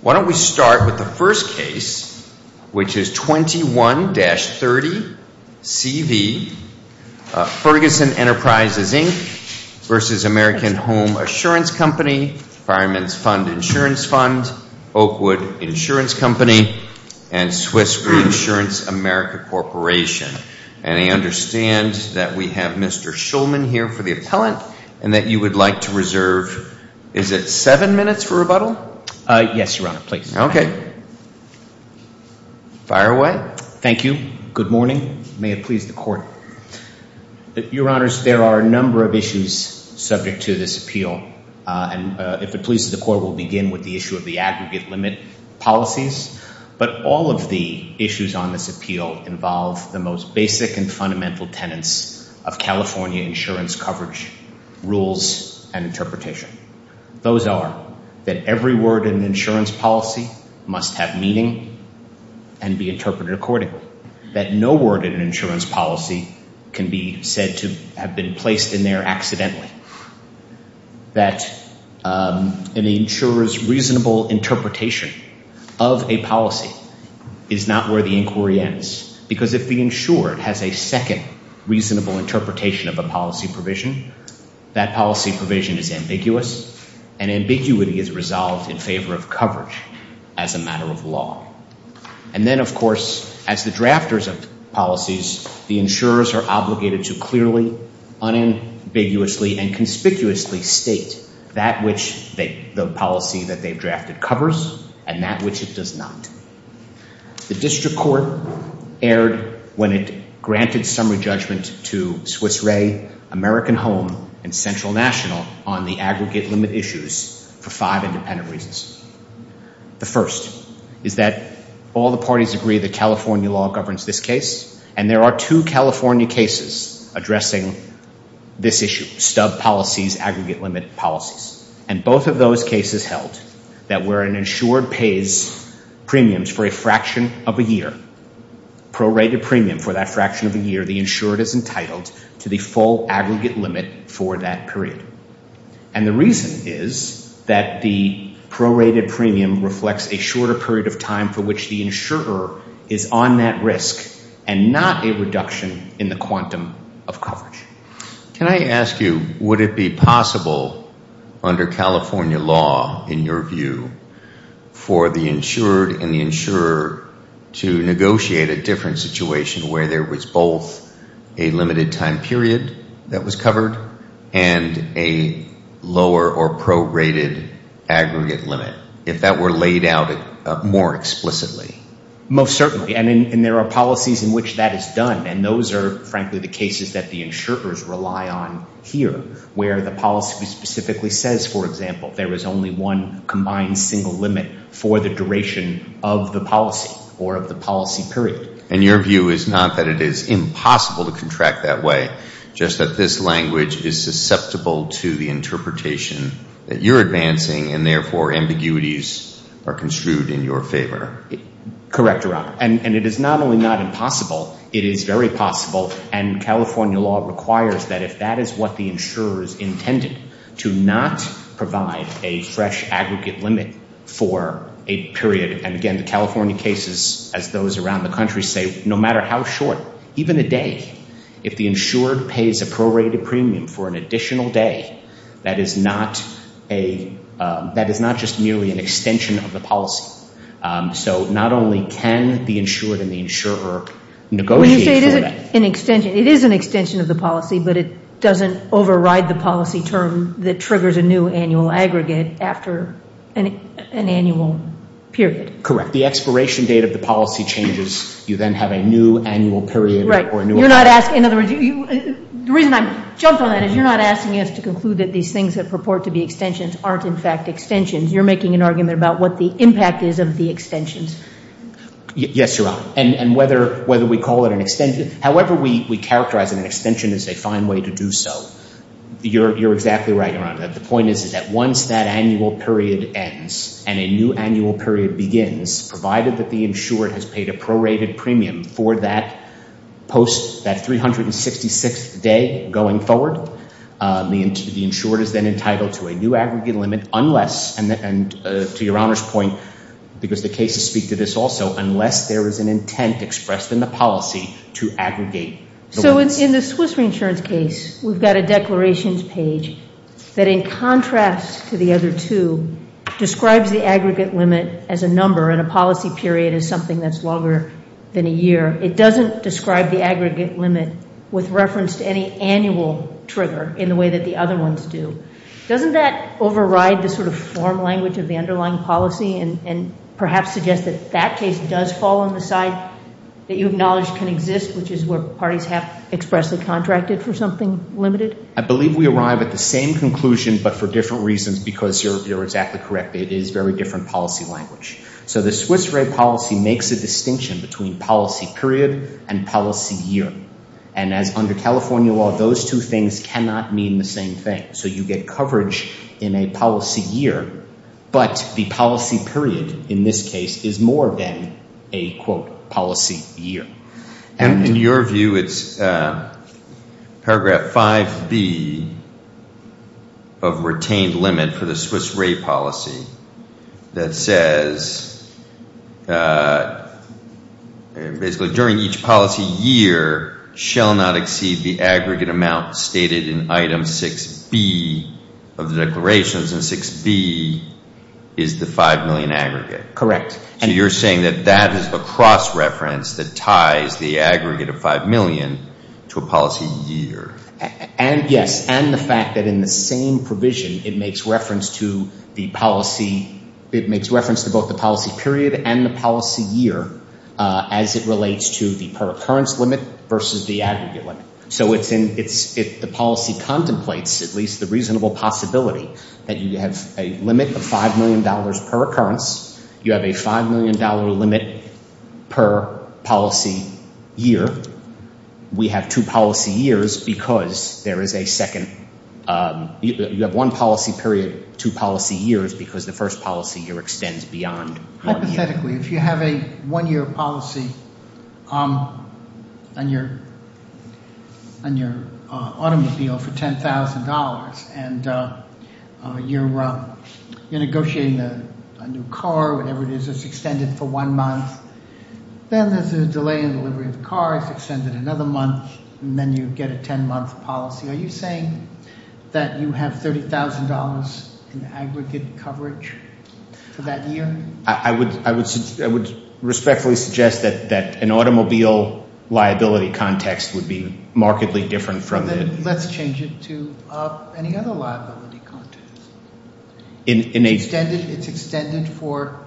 v. American Home Assurance Company, Fireman's Fund Insurance Fund, Oakwood Insurance Company, and Swiss Reinsurance America Corporation. And I understand that we have Mr. Shulman here for the appellant and that you would like to reserve, is it seven minutes for rebuttal? Yes, Your Honor, please. Okay. Fire away. Thank you. Good morning. May it please the Court. Your Honors, there are a number of issues subject to this appeal. And if it pleases the Court, we'll begin with the issue of the advocate limit policies. But all of the issues on this appeal involve the most basic and fundamental tenets of California insurance coverage rules and interpretation. Those are that every word in an insurance policy must have meaning and be interpreted accordingly. That no word in an insurance policy can be said to have been placed in there accidentally. That an insurer's reasonable interpretation of a policy is not where the inquiry ends. Because if the insurer has a second reasonable interpretation of a policy provision, that policy provision is ambiguous. And ambiguity is resolved in favor of coverage as a matter of law. And then, of course, as the drafters of policies, the insurers are obligated to clearly, unambiguously, and conspicuously state that which the policy that they've drafted covers and that which it does not. The District Court erred when it granted summary judgments to Swiss Re, American Home, and Central National on the aggregate limit issues for five independent reasons. The first is that all the parties agree that California law governs this case. And there are two California cases addressing this issue, sub-policies, aggregate limit policies. And both of those cases held that where an insured pays premiums for a fraction of a year, prorated premium for that fraction of a year, the insured is entitled to the full aggregate limit for that period. And the reason is that the prorated premium reflects a shorter period of time for which the insurer is on that risk and not a reduction in the quantum of coverage. Can I ask you, would it be possible under California law, in your view, for the insured and the insurer to negotiate a different situation where there was both a limited time period that was covered and a lower or prorated aggregate limit, if that were laid out more explicitly? Most certainly. And there are policies in which that is done. And those are, frankly, the cases that the insurers rely on here where the policy specifically says, for example, there is only one combined single limit for the duration of the policy or of the policy period. And your view is not that it is impossible to contract that way, just that this language is susceptible to the interpretation that you're advancing and therefore ambiguities are construed in your favor. Correct, Your Honor. And it is not only not impossible, it is very possible. And California law requires that if that is what the insurer is intending to not provide a fresh aggregate limit for a period. And again, the California cases, as those around the country say, no matter how short, even a day, if the insurer pays a prorated premium for an additional day, that is not just merely an extension of the policy. So not only can the insurer negotiate that. It is an extension of the policy, but it doesn't override the policy term that triggers a new annual aggregate after an annual period. Correct. The expiration date of the policy changes. You then have a new annual period. Right. In other words, the reason I jumped on that is you're not asking us to conclude that these things that purport to be extensions aren't, in fact, extensions. You're making an argument about what the impact is of the extension. Yes, Your Honor. And whether we call it an extension, however we characterize an extension as a fine way to do so. You're exactly right, Your Honor. The point is that once that annual period ends and a new annual period begins, provided that the insurer has paid a prorated premium for that post, that 366th day going forward, the insurer is then entitled to a new aggregate limit unless, and to Your Honor's point, because the cases speak to this also, unless there is an intent expressed in the policy to aggregate. So in the Swiss Reinsurance case, we've got a declarations page that in contrast to the other two describes the aggregate limit as a number and a policy period as something that's longer than a year. It doesn't describe the aggregate limit with reference to any annual trigger in the way that the other ones do. Doesn't that override the sort of form language of the underlying policy and perhaps suggest that that case does fall on the side that you acknowledge can exist, which is where parties have expressly contracted for something limited? I believe we arrive at the same conclusion but for different reasons because you're exactly correct. It is very different policy language. So the Swiss Re policy makes a distinction between policy period and policy year. And under California law, those two things cannot mean the same thing. So you get coverage in a policy year but the policy period in this case is more than a quote policy year. And in your view, it's paragraph 5B of retained limit for the Swiss Re policy that says, basically during each policy year shall not exceed the aggregate amount stated in item 6B of declarations and 6B is the 5 million aggregate. Correct. And you're saying that that is the cross reference that ties the aggregate of 5 million to a policy year. And yes, and the fact that in the same provision, it makes reference to the policy, it makes reference to both the policy period and the policy year as it relates to the per occurrence limit versus the aggregate limit. So it's in, if the policy contemplates at least the reasonable possibility that you have a limit of $5 million per occurrence, you have a $5 million limit per policy year. We have two policy years because there is a second, you have one policy period, two policy years because the first policy year extends beyond. Hypothetically, if you have a one year policy on your automobile for $10,000 and you're negotiating a new car, whatever it is, it's extended for one month. Then if there's a delay in the delivery of the car, it's extended another month and then you get a 10-month policy. Are you saying that you have $30,000 in aggregate coverage for that year? I would respectfully suggest that an automobile liability context would be markedly different from the, let's change it to any other liability context. In a standard, it's extended for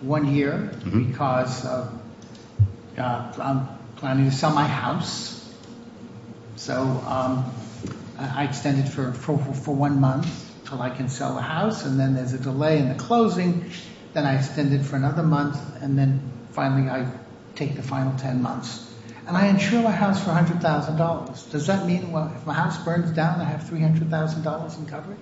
one year because I'm planning to sell my house. So I extend it for one month so I can sell the house and then there's a delay in the closing and I extend it for another month and then finally I take the final 10 months. And I insure my house for $100,000. Does that mean my house burns down and I have $300,000 in coverage?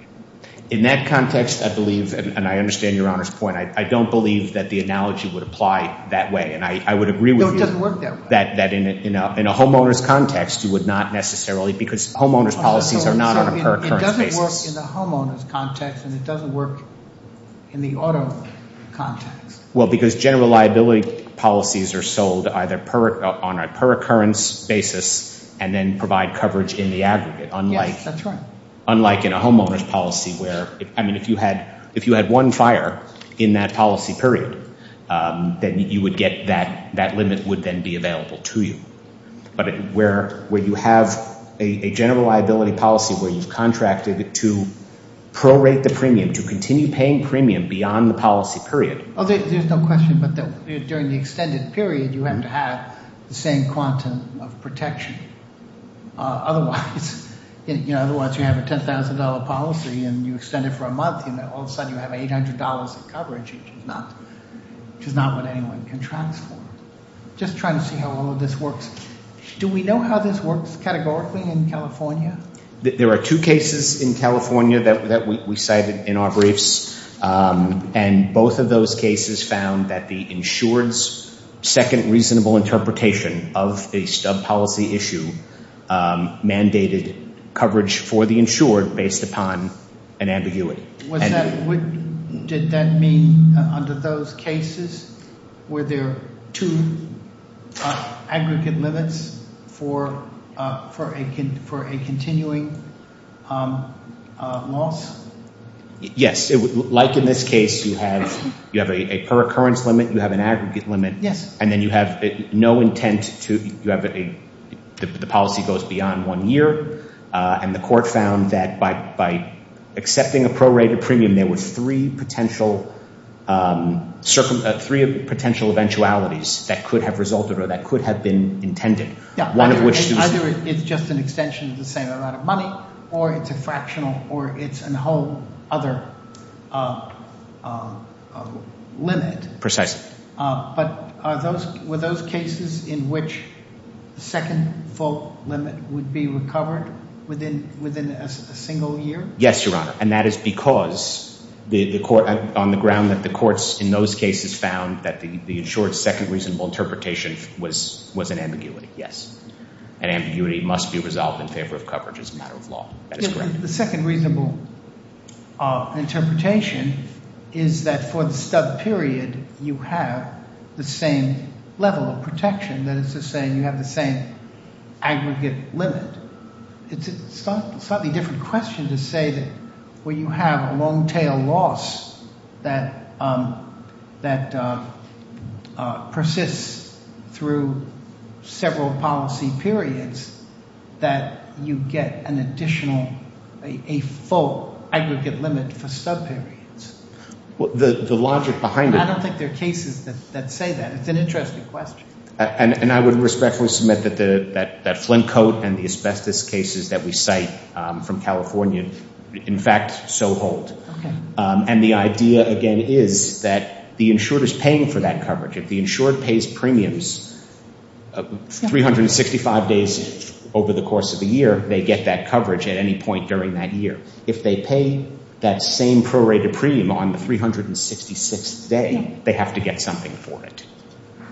In that context, I believe, and I understand Your Honor's point, I don't believe that the analogy would apply that way. And I would agree with you that in a homeowner's context, it would not necessarily because homeowner's policies are not on a per current state. It doesn't work in the homeowner's context and it doesn't work in the automobile context. Well, because general liability policies are sold either on a per occurrence basis and then provide coverage in the aggregate, unlike in a homeowner's policy where, I mean, if you had one fire in that policy period, then you would get that, that limit would then be available to you. But where you have a general liability policy where you contracted to prorate the premium, to continue paying premium beyond the policy period. There's no question, but during the extended period, you have to have the same quantum of protection. Otherwise, you have a $10,000 policy and you extend it for a month and all of a sudden you have $800 of coverage, which is not what anyone can transfer. Just trying to see how all of this works. Do we know how this works categorically in California? There are two cases in California that we cited in our briefs and both of those cases found that the insured's second reasonable interpretation of the subpolicy issue mandated coverage for the insured based upon an ambiguity. Did that mean under those cases were there two aggregate limits for a continuing loss? Yes. Like in this case, you have a per-occurrence limit, you have an aggregate limit, and then you have no intent to, you have a, the policy goes beyond one year. And the court found that by accepting a prorated premium, there was three potential, three potential eventualities that could have resulted or that could have been intended. One of which is. Either it's just an extension, you're saying a lot of money, or it's a fractional, or it's a whole other limit. Precisely. But are those, were those cases in which second full limit would be recovered within a single year? Yes, Your Honor. And that is because the court, on the ground that the courts in those cases found that the insured's second reasonable interpretation was an ambiguity, yes. An ambiguity must be resolved in favor of coverage as a matter of law. The second reasonable interpretation is that for the stubbed period, you have the same level of protection, that it's the same, you have the same aggregate limit. It's a slightly different question to say that where you have a long tail loss that, that persists through several policy periods, that you get an additional, a full aggregate limit for stubbed periods. The logic behind it. I don't think there are cases that say that. It's an interesting question. And I would respectfully submit that Flint coat and the asbestos cases that we cite from California, in fact, so hold. And the idea, again, is that the insured is paying for that coverage. If the insured pays premiums 365 days over the course of the year, they get that coverage at any point during that year. If they pay that same prorated premium on the 366th day, they have to get something for it.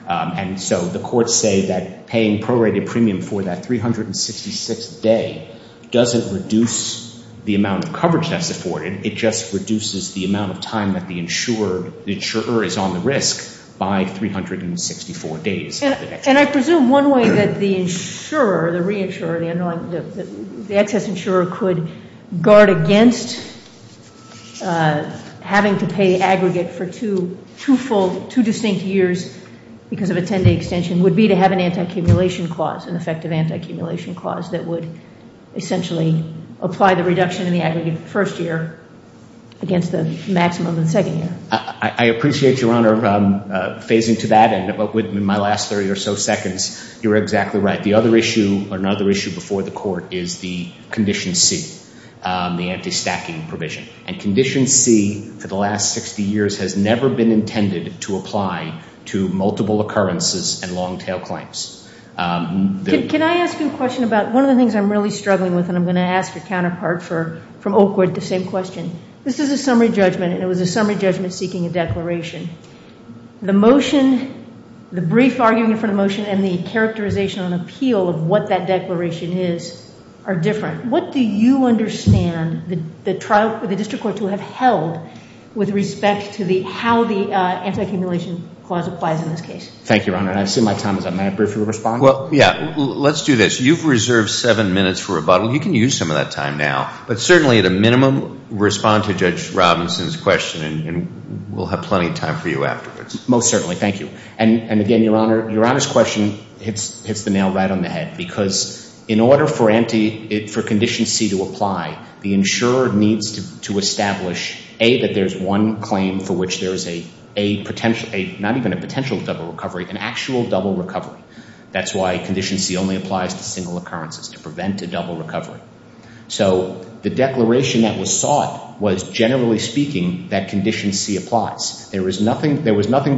And so the courts say that paying prorated premium for that 366th day doesn't reduce the amount of coverage that's afforded. It just reduces the amount of time that the insurer is on the risk by 364 days. And I presume one way that the insurer, the reinsurer, the excess insurer could guard against having to pay aggregate for two full, two distinct years because of a 10-day extension would be to have an anti-accumulation clause, an effective anti-accumulation clause that would essentially apply the reduction in the aggregate of the first year against the maximum of the second year. I appreciate, Your Honor, phasing to that. And in my last 30 or so seconds, you're exactly right. The other issue, another issue before the court is the Condition C, the anti-stacking provision. And Condition C for the last 60 years has never been intended to apply to multiple occurrences and long-tail claims. Can I ask you a question about one of the things I'm really struggling with and I'm going to ask the counterpart from Oakwood the same question. This is a summary judgment and it was a summary judgment seeking a declaration. The motion, the brief argument for the motion and the characterization and appeal of what that declaration is are different. What do you understand the district courts will have held with respect to how the anti-accumulation clause applies in this case? Thank you, Your Honor. I assume my time is up. May I briefly respond? Well, yeah, let's do this. You've reserved seven minutes for rebuttal. You can use some of that time now. But certainly, at a minimum, respond to Judge Robinson's question and we'll have plenty of time for you afterwards. Most certainly. Thank you. And again, Your Honor, Your Honor's question hits the nail right on the head because in order for Condition C to apply, the insurer needs to establish A, that there's one claim for which there's a potential, not even a potential double recovery, an actual double recovery. That's why Condition C only applies to single occurrences, to prevent a double recovery. So the declaration that was sought was, generally speaking, that Condition C applies. There was nothing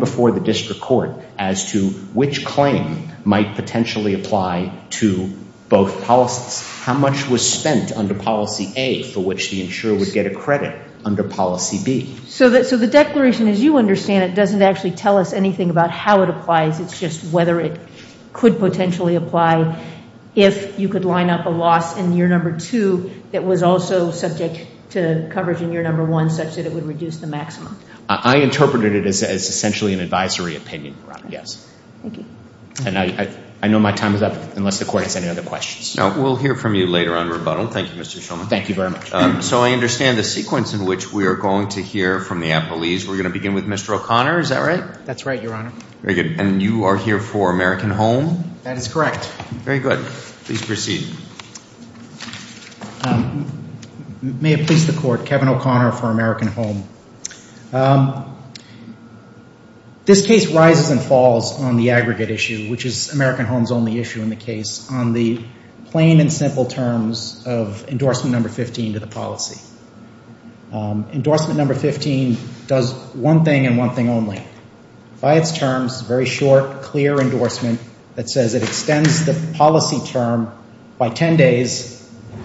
before the district court as to which claim might potentially apply to both policies. How much was spent under Policy A for which the insurer would get a credit under Policy B? So the declaration, as you understand it, doesn't actually tell us anything about how it applies, it's just whether it could potentially apply. If you could line up a loss in year number two that was also subject to coverage in year number one, such that it would reduce the maximum. I interpreted it as essentially an advisory opinion. Yes. Thank you. And I know my time is up, unless the court has any other questions. No, we'll hear from you later on rebuttal. Thank you, Mr. Shulman. Thank you very much. So I understand the sequence in which we are going to hear from the appellees. We're going to begin with Mr. O'Connor, is that right? That's right, Your Honor. Very good. And you are here for American Home? That is correct. Very good. Please proceed. May it please the court, Kevin O'Connor for American Home. This case rises and falls on the aggregate issue, which is American Home's only issue in the case, on the plain and simple terms of endorsement number 15 to the policy. Endorsement number 15 does one thing and one thing only. Five terms, very short, clear endorsement that says it extends the policy term by 10 days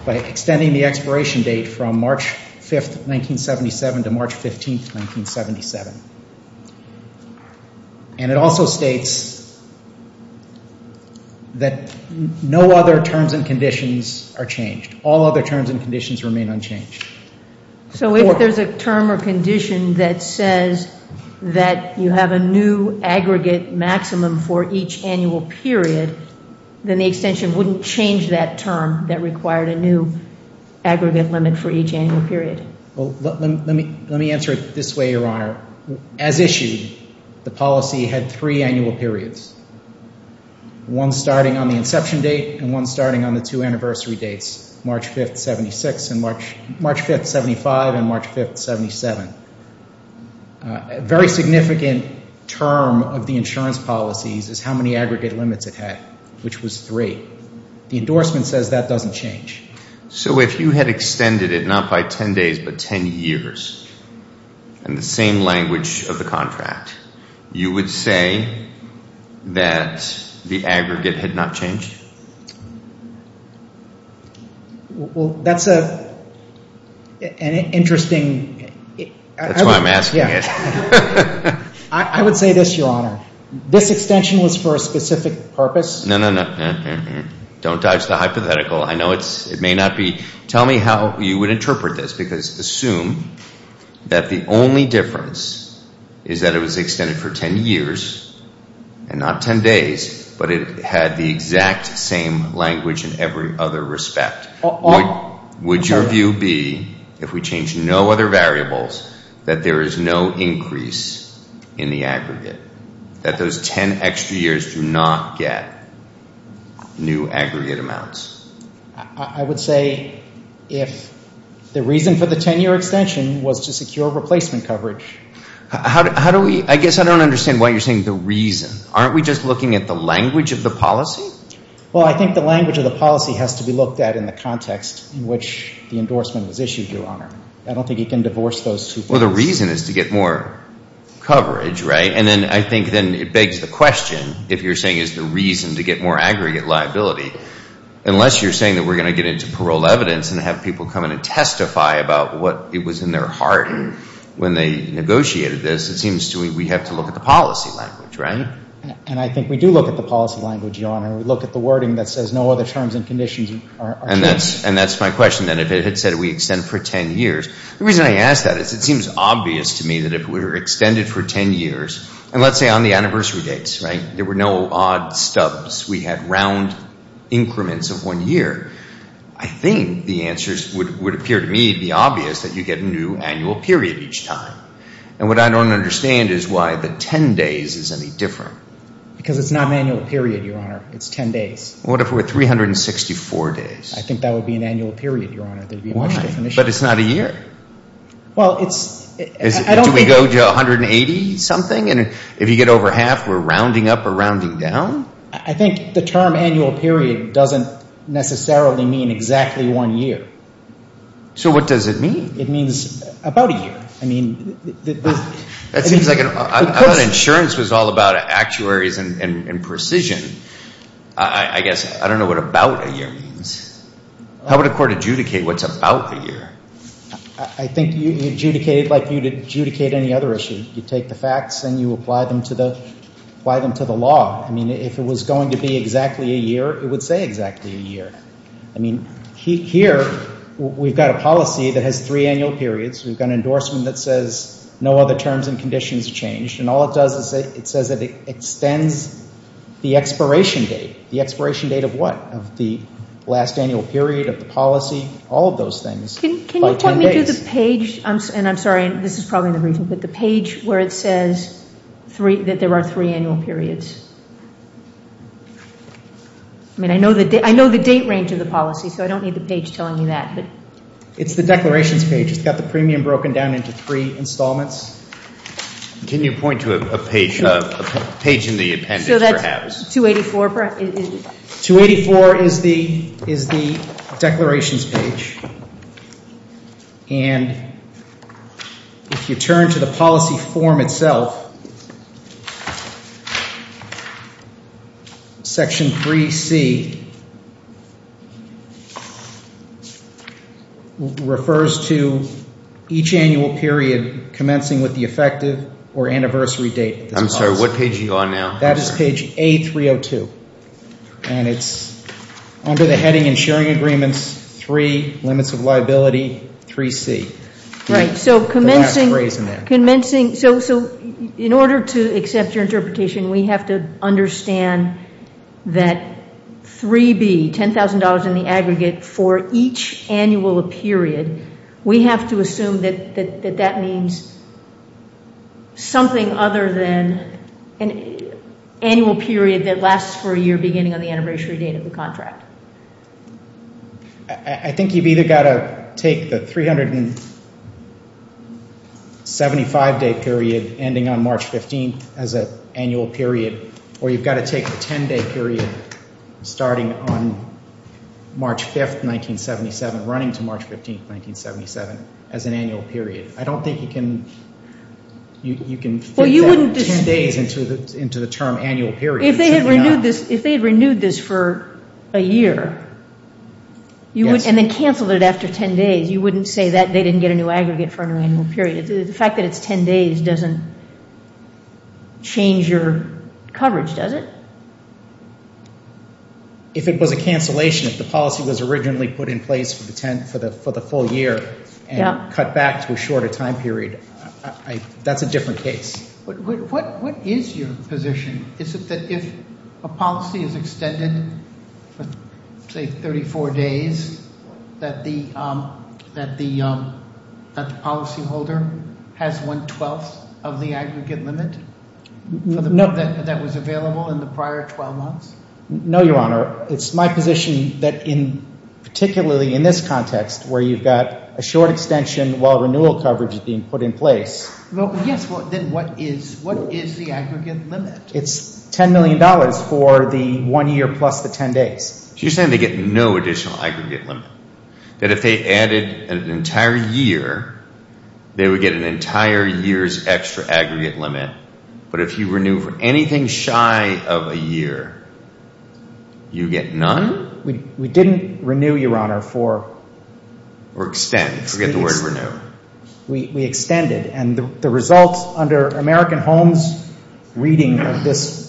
by extending the expiration date from March 5th, 1977 to March 15th, 1977. And it also states that no other terms and conditions are changed. All other terms and conditions remain unchanged. So if there's a term or condition that says that you have a new aggregate maximum for each annual period, then the extension wouldn't change that term that required a new aggregate limit for each annual period? Well, let me answer it this way, Your Honor. As issued, the policy had three annual periods. One starting on the inception date and one starting on the two anniversary dates. March 5th, 76 and March, March 5th, 75 and March 5th, 77. A very significant term of the insurance policies is how many aggregate limits it had, which was three. The endorsement says that doesn't change. So if you had extended it not by 10 days but 10 years in the same language of the contract, you would say that the aggregate did not change? Well, that's an interesting... That's why I'm asking it. I would say this, Your Honor. This extension was for a specific purpose. No, no, no. Don't touch the hypothetical. I know it may not be. Tell me how you would interpret this because assume that the only difference is that it was extended for 10 years and not 10 days, but it had the exact same language in every other respect. Would your view be if we change no other variables that there is no increase in the aggregate? That those 10 extra years do not get new aggregate amounts? I would say if the reason for the 10-year extension was to secure replacement coverage. How do we... I guess I don't understand why you're saying the reason. Aren't we just looking at the language of the policy? Well, I think the language of the policy has to be looked at in the context in which the endorsement was issued, Your Honor. I don't think you can divorce those two things. Well, the reason is to get more coverage, right? And then I think then it begs the question if you're saying it's the reason to get more aggregate liability. Unless you're saying that we're going to get into parole evidence and have people come in and testify about what it was in their heart when they negotiated this, it seems we have to look at the policy language, right? And I think we do look at the policy language, Your Honor. We look at the wording that says no other terms and conditions are mentioned. And that's my question then. If it said we extend for 10 years, the reason I ask that is it seems obvious to me that if we were extended for 10 years and let's say on the anniversary dates, right, there were no odd stubs. We had round increments of one year. I think the answers would appear to me to be obvious that you get a new annual period each time. And what I don't understand is why the 10 days is any different. Because it's not an annual period, Your Honor. It's 10 days. What if it were 364 days? I think that would be an annual period, Your Honor. There'd be no definition. But it's not a year. Well, it's, I don't think. Do we go to 180 something? And if you get over half, we're rounding up or rounding down? I think the term annual period doesn't necessarily mean exactly one year. So what does it mean? It means about a year. I mean, the. I thought insurance was all about actuaries and precision. I guess, I don't know what about a year means. How would a court adjudicate what's about a year? I think you'd adjudicate like you'd adjudicate any other issue. You take the facts and you apply them to the law. If it was going to be exactly a year, it would say exactly a year. I mean, here, we've got a policy that has three annual periods. We've got an endorsement that says no other terms and conditions changed. And all it does is it says it extends the expiration date. The expiration date of what? The last annual period of the policy. All of those things. Can you tell me that the page, and I'm sorry, this is probably the reason, but the page where it says that there are three annual periods. I mean, I know the date range of the policy, so I don't need the page telling me that. It's the declaration page. We've got the premium broken down into three installments. Can you point to a page in the appendix perhaps? So that's 284? 284 is the declaration page. And if you turn to the policy form itself, section 3C refers to each annual period commencing with the effective or anniversary date. I'm sorry, what page are you on now? That is page A302. And it's under the heading and sharing agreements, three limits of liability, 3C. Right, so commencing, so in order to accept your interpretation, we have to understand that 3B, $10,000 in the aggregate for each annual period, we have to assume that that means something other than an annual period that lasts for a year beginning on the anniversary date of the contract. I think you've either got to take the 375-day period ending on March 15th as an annual period, or you've got to take the 10-day period starting on March 5th, 1977, running to March 15th, 1977, as an annual period. I don't think you can take 10 days into the term annual period. If they had renewed this for a year, and then canceled it after 10 days, you wouldn't say that they didn't get a new aggregate for an annual period. The fact that it's 10 days doesn't change your coverage, does it? If it was a cancellation, if the policy was originally put in place for the full year, and cut back to a shorter time period, that's a different case. What is your position? Is it that if a policy is extended, say 34 days, that the policyholder has one-twelfth of the aggregate limit that was available in the prior 12 months? No, Your Honor. It's my position that particularly in this context, where you've got a short extension while renewal coverage is being put in place. Then what is the aggregate limit? It's $10 million for the one-year plus the 10 days. She's saying they get no additional aggregate limit, that if they added an entire year, they would get an entire year's extra aggregate limit. But if you renew anything shy of a year, you get none? We didn't renew, Your Honor, for... Or extend, forget the word renew. We extended, and the results under American Homes' reading of this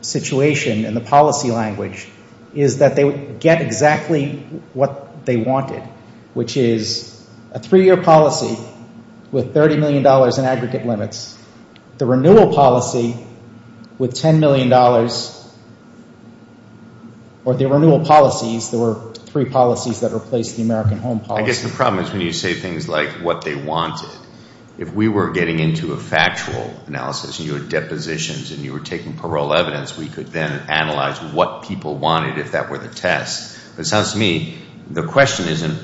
situation and the policy language is that they would get exactly what they wanted, which is a three-year policy with $30 million in aggregate limits. The renewal policy with $10 million, or the renewal policies, there were three policies that replaced the American Home policy. I guess the problem is when you say things like what they wanted. If we were getting into a factual analysis and you had depositions and you were taking parole evidence, we could then analyze what people wanted if that were the test. It sounds to me the question isn't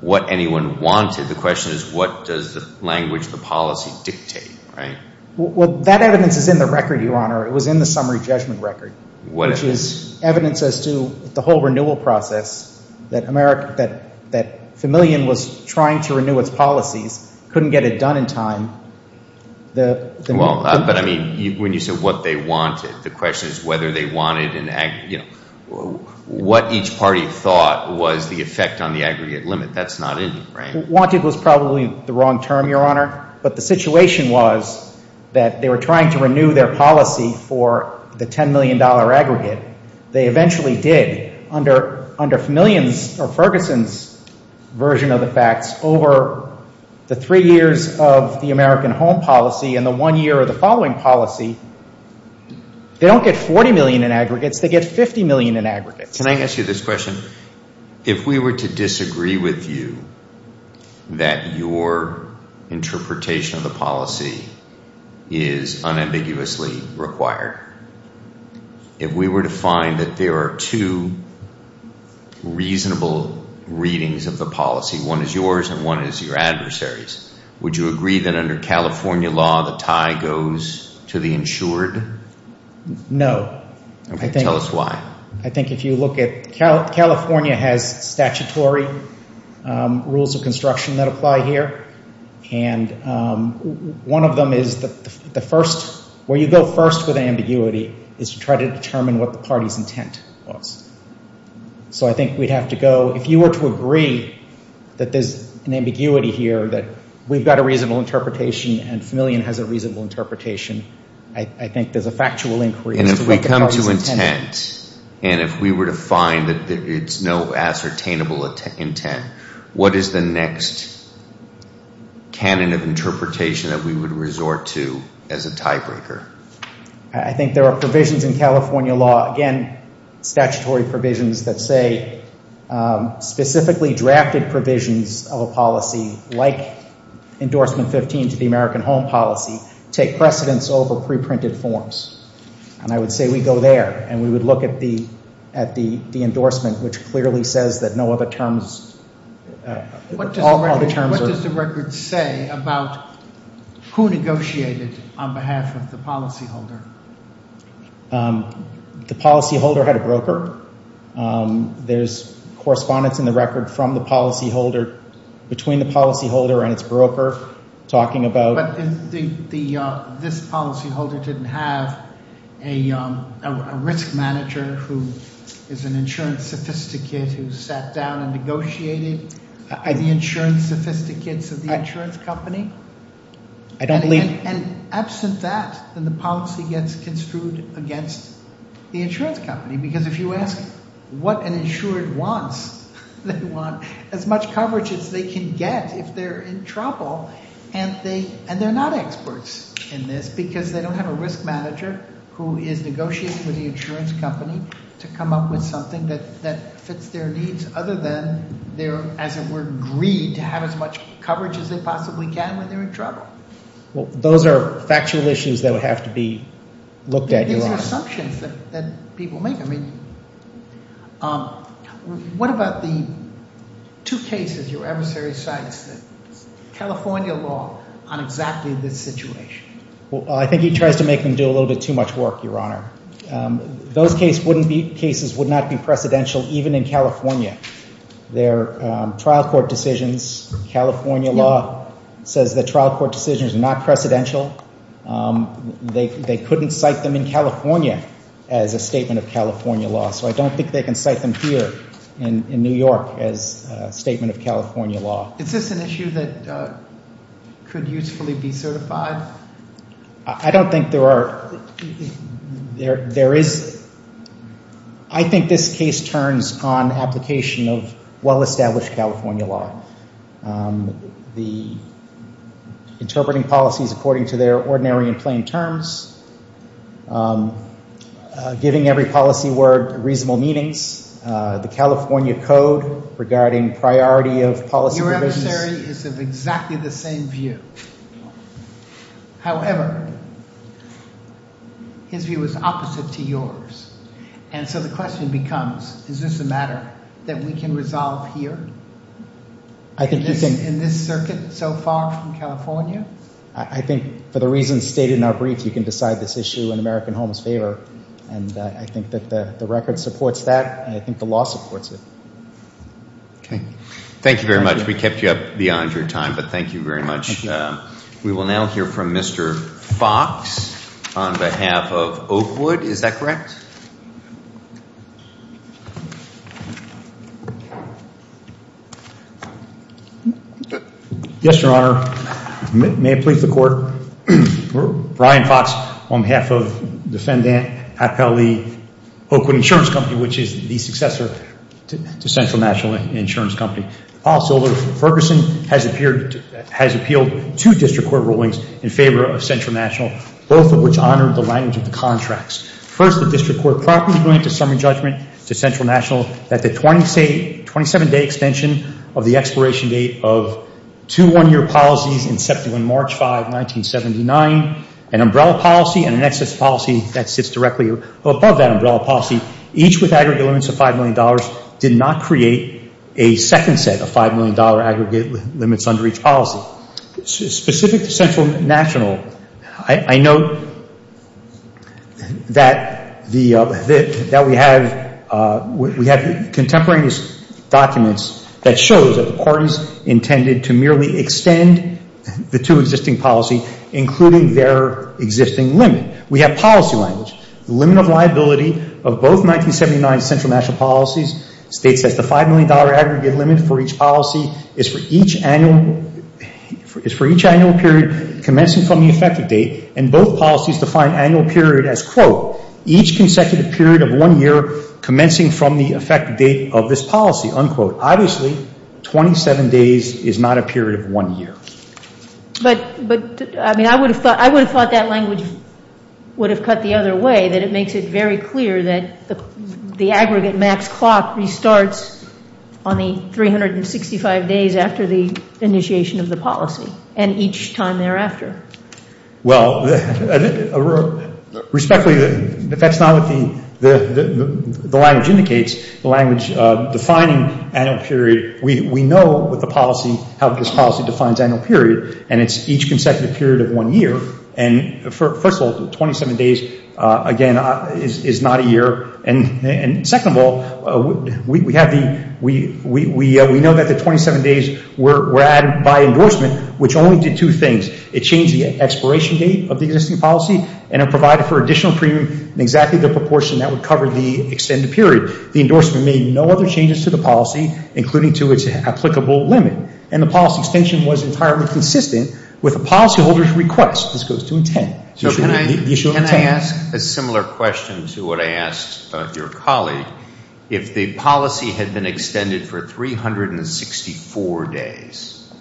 what anyone wanted. The question is what does the language, the policy dictate, right? Well, that evidence is in the record, Your Honor. It was in the summary judgment record, which was evidence as to the whole renewal process that the million was trying to renew its policies, couldn't get it done in time. Well, but I mean, when you said what they wanted, the question is whether they wanted in the aggregate, what each party thought was the effect on the aggregate limit. That's not it, right? Wanted was probably the wrong term, Your Honor, but the situation was that they were trying to renew their policy for the $10 million aggregate. They eventually did. Under millions, or Ferguson's version of the facts, over the three years of the American Home policy and the one year of the following policy, they don't get $40 million in aggregates, they get $50 million in aggregates. Can I ask you this question? If we were to disagree with you that your interpretation of the policy is unambiguously required, if we were to find that there are two reasonable readings of the policy, one is yours and one is your adversary's, would you agree that under California law, the tie goes to the insured? No. Okay, tell us why. I think if you look at, California has statutory rules of construction that apply here, and one of them is the first, where you go first with ambiguity is to try to determine what the party's intent was. So I think we'd have to go, if you were to agree that there's an ambiguity here that we've got a reasonable interpretation and million has a reasonable interpretation, I think there's a factual inquiry. And if we come to intent, and if we were to find that there's no ascertainable intent, what is the next canon of interpretation that we would resort to as a tiebreaker? I think there are provisions in California law, again, statutory provisions that say, specifically drafted provisions of a policy, like endorsement 15 to the American Home Policy, take precedence over pre-printed forms. And I would say we go there, and we would look at the endorsement, which clearly says that no other terms, all other terms are. What does the record say about who negotiated on behalf of the policyholder? The policyholder had a broker. There's correspondence in the record from the policyholder, between the policyholder and its broker, talking about... But this policyholder didn't have a risk manager who is an insurance sophisticate who sat down and negotiated the insurance sophisticates of the insurance company? And absent that, then the policy gets construed against the insurance company. Because if you ask what an insured wants, they want as much coverage as they can get if they're in trouble, and they're not experts in this, because they don't have a risk manager who is negotiating with the insurance company to come up with something that fits their needs, other than their, as it were, greed to have as much coverage as they possibly can when they're in trouble. Well, those are factual issues that have to be looked at. There are assumptions that people make. I mean, what about the two cases your adversary cites? California law on exactly this situation. Well, I think he tried to make them do a little bit too much work, Your Honor. Those cases would not be precedential, even in California. Their trial court decisions, California law says the trial court decision is not precedential. They couldn't cite them in California as a statement of California law. So I don't think they can cite them here in New York as a statement of California law. Is this an issue that could usefully be certified? I don't think there are. There is. I think this case turns on application of well-established California law. The interpreting policies according to their ordinary and plain terms. Giving every policy word reasonable meanings. The California code regarding priority of policy. Your adversary is of exactly the same view. However, his view is opposite to yours. And so the question becomes, is this a matter that we can resolve here? In this circuit so far from California? I think for the reasons stated in our briefs, we can decide this issue in American Homesteader. And I think that the record supports that, and I think the law supports it. Okay. Thank you very much. We kept you up beyond your time, but thank you very much. We will now hear from Mr. Fox on behalf of Oakwood. Is that correct? Yes, Your Honor. May it please the court. Brian Fox on behalf of the defendant, Appellee Oakwood Insurance Company, which is the successor to Central National Insurance Company. Also, Ferguson has appealed two district court rulings in favor of Central National. Both of which honor the language of the contracts. First, the district court parking is going to summary judgment to Central National that the 27-day extension of the expiration date of two one-year policies in September and March 5, 1979, an umbrella policy and an excess policy that sits directly above that umbrella policy. Each with aggregate limits of $5 million did not create a second set of $5 million aggregate limits under each policy. Specific to Central National, I note that we have contemporary documents that show that the parties intended to merely extend the two existing policies, including their existing limit. We have policy language. Limit liability of both 1979 Central National policies states that the $5 million aggregate limit for each policy is for each annual period commencing from the effective date. And both policies define annual period as, quote, each consecutive period of one year commencing from the effective date of this policy, unquote. Obviously, 27 days is not a period of one year. But, I mean, I would have thought that language would have cut the other way, that it makes it very clear that the aggregate max clock restarts on the 365 days after the initiation of the policy and each time thereafter. Well, respectfully, that's not the language indicates. The language defining annual period, we know that the policy, how this policy defines annual period. And it's each consecutive period of one year. And, first of all, 27 days, again, is not a year. And second of all, we have the, we know that the 27 days were added by endorsement, which only did two things. It changed the expiration date of the existing policy and it provided for additional period in exactly the proportion that would cover the extended period. The endorsement made no other changes to the policy, including to its applicable limit. And the policy extension was entirely consistent with the policy holder's request, this goes to intent. You should, you should pass. Can I ask a similar question to what I asked your colleague? If the policy had been extended for 364 days,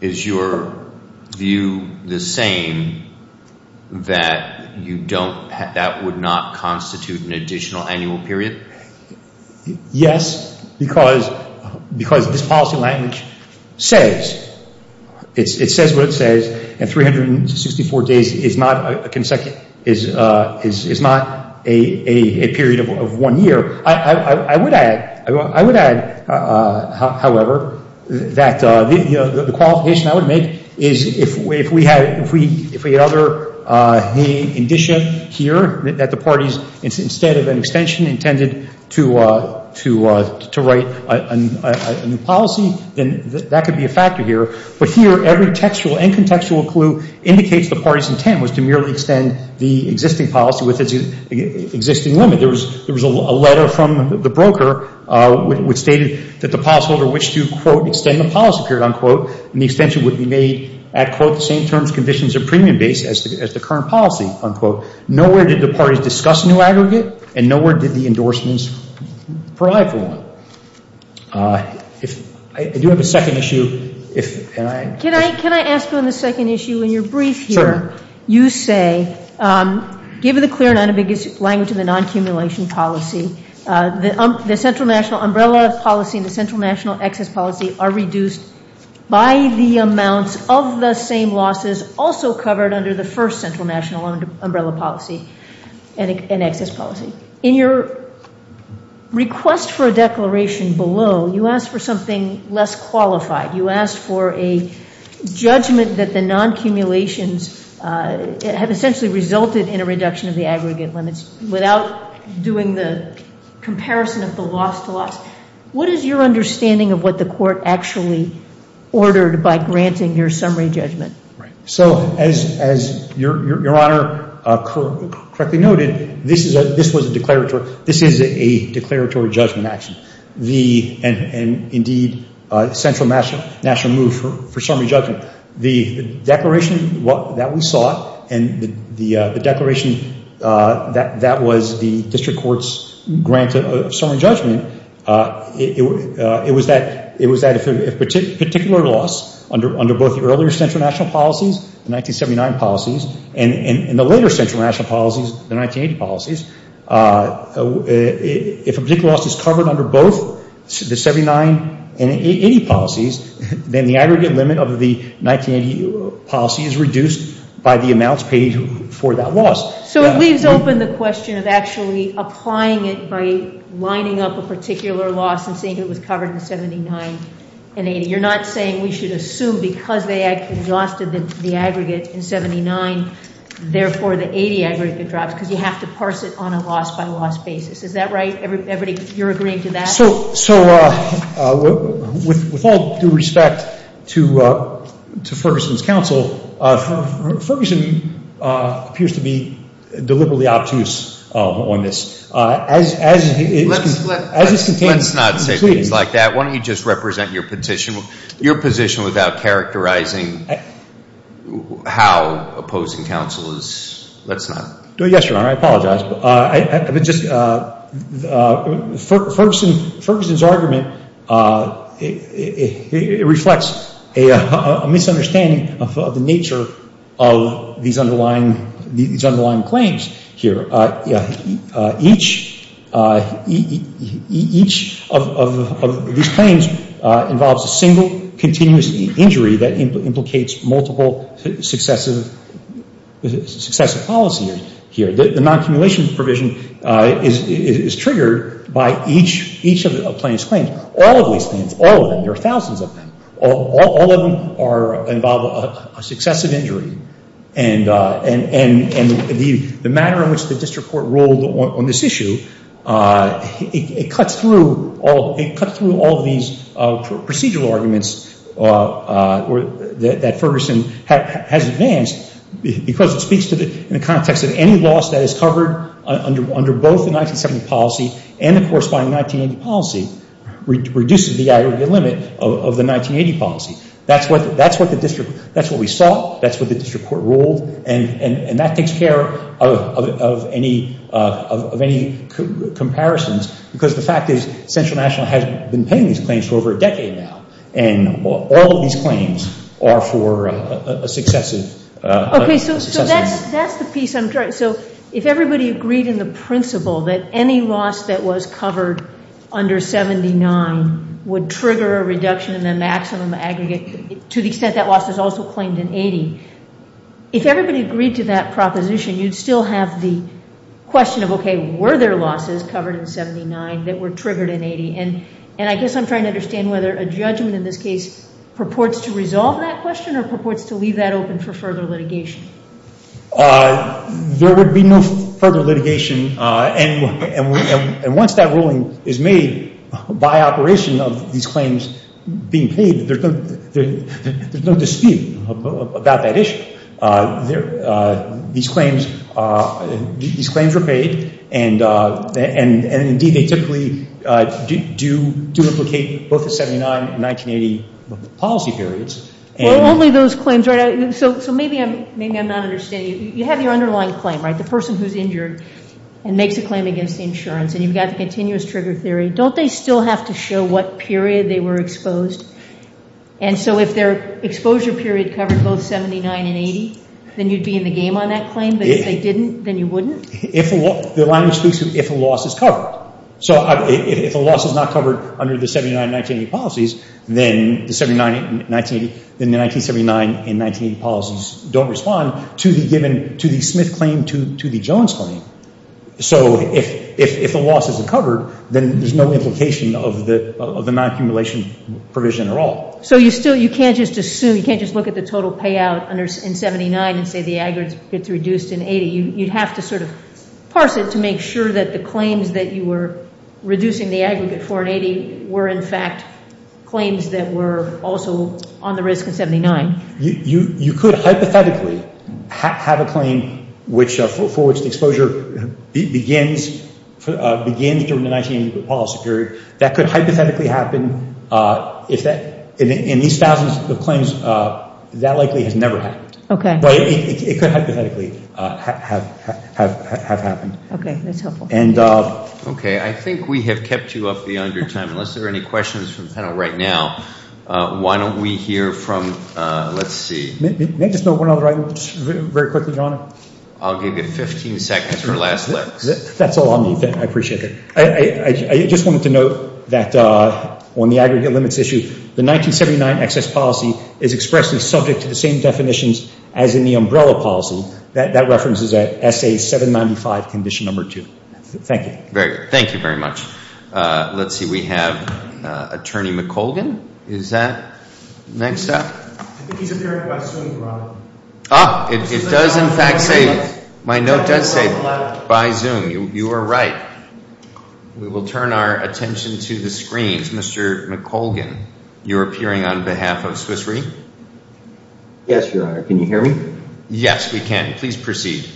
is your view the same that you don't, that would not constitute an additional annual period? Yes, because, because this policy language says, it says what it says, and 364 days is not a consecutive, is not a period of one year. I would add, I would add, however, that the qualification I would make is if we had, if we ever, we envision here that the parties, instead of an extension intended to write a policy, then that could be a factor here. But here, every textual and contextual clue indicates the party's intent was to merely extend the existing policy with the existing limit. There was a letter from the broker which stated that the policy holder which to quote extend the policy period, unquote, and the extension would be made at quote the same terms, conditions, or premium basis as the current policy, unquote. Nowhere did the parties discuss new aggregate, and nowhere did the endorsements provide for them. If, I do have a second issue, if, can I? Can I, can I ask you on the second issue? In your brief here, you say, given the clear and unambiguous language of the non-accumulation policy, the central national umbrella policy and the central national access policy are reduced by the amount of the same losses also covered under the first central national umbrella policy and access policy. In your request for a declaration below, you ask for something less qualified. You ask for a judgment that the non-accumulations have essentially resulted in a reduction of the aggregate limits without doing the comparison of the loss to loss. What is your understanding of what the court actually ordered by granting your summary judgment? Right. So, as, as your, your, your honor correctly noted, this is a, this was a declaratory, this is a declaratory judgment action. The, and, and indeed central national, national move for, for summary judgment. The declaration that we saw, and the, the declaration that, that was the district court's grant of summary judgment, it, it, it was that, that particular loss under, under both the earlier central national policies, the 1979 policies, and, and the later central national policies, the 1980 policies. If a particular loss is covered under both the 79 and 80 policies, then the aggregate limit of the 1980 policy is reduced by the amounts paid for that loss. So it leaves open the question of actually applying it by lining up a particular loss and saying it was covered in 79 and 80. You're not saying we should assume because they actually lost the, the aggregate in 79, therefore the 80 aggregate drops, because you have to parse it on a loss by loss basis. Is that right? Everybody, you're agreeing to that? So, so with, with all due respect to, to Ferguson's counsel, Ferguson appears to be deliberately obtuse on this. As, as, as it's, as it's contained. Let's not say things like that. Why don't you just represent your position, your position without characterizing how opposing counsel is, let's not. Yes, Your Honor, I apologize. I, I would just, Ferguson, Ferguson's argument, it, it, it reflects a, a misunderstanding of the nature of these underlying, these underlying claims here. Each, each of these claims involves a single continuous injury that implicates multiple successive, successive policies here. The non-cumulation provision is, is triggered by each, each of the plaintiff's claims. All of these claims, all of them, there are thousands of them. All, all of them are, involve a successive injury. And, and, and the, the manner in which the district court ruled on, on this issue, it, it cut through all, it cut through all of these procedural arguments that, that Ferguson has, has advanced because it speaks to the, in the context of any loss that is covered under, under both the 1970 policy and the corresponding 1980 policy, which reduces the, the limit of, of the 1980 policy. That's what, that's what the district, that's what we saw. That's what the district court ruled. And, and, and that takes care of, of, of, of any, of, of any comparisons. Because the fact is, Central National has been paying these claims for over a decade now. And all of these claims are for a, a, a successive. Okay, so, so that's, that's the piece I'm trying, so if everybody agreed in the principle that any loss that was covered under 79 would trigger a reduction in the maximum aggregate, to the extent that loss is also claimed in 80, if everybody agreed to that proposition, you'd still have the question of, okay, were there losses covered in 79 that were triggered in 80? And, and I guess I'm trying to understand whether a judgment in this case purports to resolve that question or purports to leave that open for further litigation? There would be no further litigation and, and, and once that ruling is made by operation of these claims being paid, there's no, there's no dispute about that issue. There, these claims, these claims are paid and, and, and indeed they typically do, do implicate both the 79 and 1980 policy periods. And. Over those claims, so, so maybe I'm, maybe I'm not understanding. You have your underlying claim, right? The person who's injured and makes a claim against insurance and you've got a continuous trigger theory. Don't they still have to show what period they were exposed? And so if their exposure period covers both 79 and 80, then you'd be in the game on that claim? But if they didn't, then you wouldn't? If a loss, they're not exclusive if a loss is covered. So if a loss is not covered under the 79, 1980 policies, then the 79, 1980, then the 1979 and 1980 policies don't respond to the given, to the Smith claim, to, to the Jones claim. So if, if, if a loss is covered, then there's no implication of the, of the non-accumulation provision at all. So you still, you can't just assume, you can't just look at the total payout under, in 79 and say the aggregate's reduced in 80. You'd have to sort of parse it to make sure that the claims that you were reducing the aggregate for in 80 were in fact claims that were also on the risk in 79. You, you, you could hypothetically have, have a claim which, for its exposure begins, begins during the 1980 policy period. That could hypothetically happen if that, in these thousands of claims, that likely has never happened. Okay. But it could hypothetically have, have, have, have happened. Okay. That's helpful. And. Okay. I think we have kept you up beyond your time. Unless there are any questions from the panel right now, why don't we hear from, let's see. May I just note one other item very quickly, Your Honor? I'll give you 15 seconds for the last one. That's all I'll need then. I appreciate it. I, I, I just wanted to note that on the aggregate limits issue, the 1979 excess policy is expressed as subject to the same definitions as in the umbrella policy. That, that reference is at SA 795 condition number 2. Thank you. Very good. Thank you very much. Let's see. We have Attorney McColgan. Is that next up? I think he's appearing by Zoom, Your Honor. Oh, it, it does in fact say, my note does say by Zoom. You, you are right. We will turn our attention to the screen. Mr. McColgan, you're appearing on behalf of Swiss Re. Yes, Your Honor. Can you hear me? Yes, we can. Please proceed.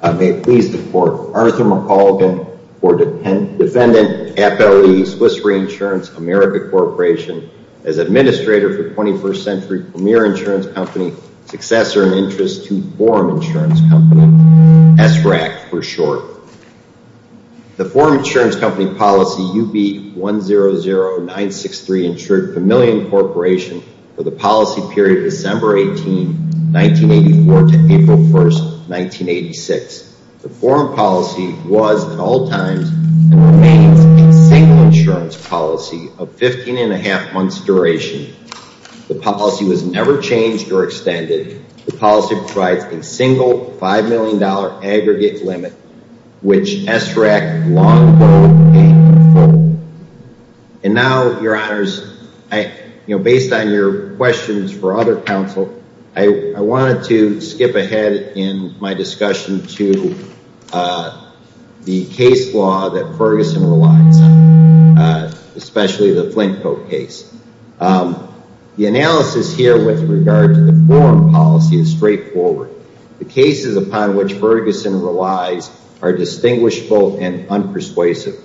I may please report. Arnett McColgan, for defendant, FLE, Swiss Re Insurance, America Corporation, as administrator for 21st Century Premier Insurance Company, successor in interest to Foreign Insurance Company, SRAC for short. The Foreign Insurance Company policy, UB 100963, insured Chameleon Corporation for the policy period December 18, 1984 to April 1, 1986. The foreign policy was at all times, insurance policy of 15 and a half months duration. The policy was never changed or extended. The policy provided a single $5 million aggregate limit, which SRAC. And now, Your Honors, I, you know, based on your questions for other counsel, I wanted to skip ahead in my discussion to the case law that Ferguson relies on, especially the Flintcoat case. The analysis here with regard to the foreign policy is straightforward. The cases upon which Ferguson relies are distinguishable and unpersuasive.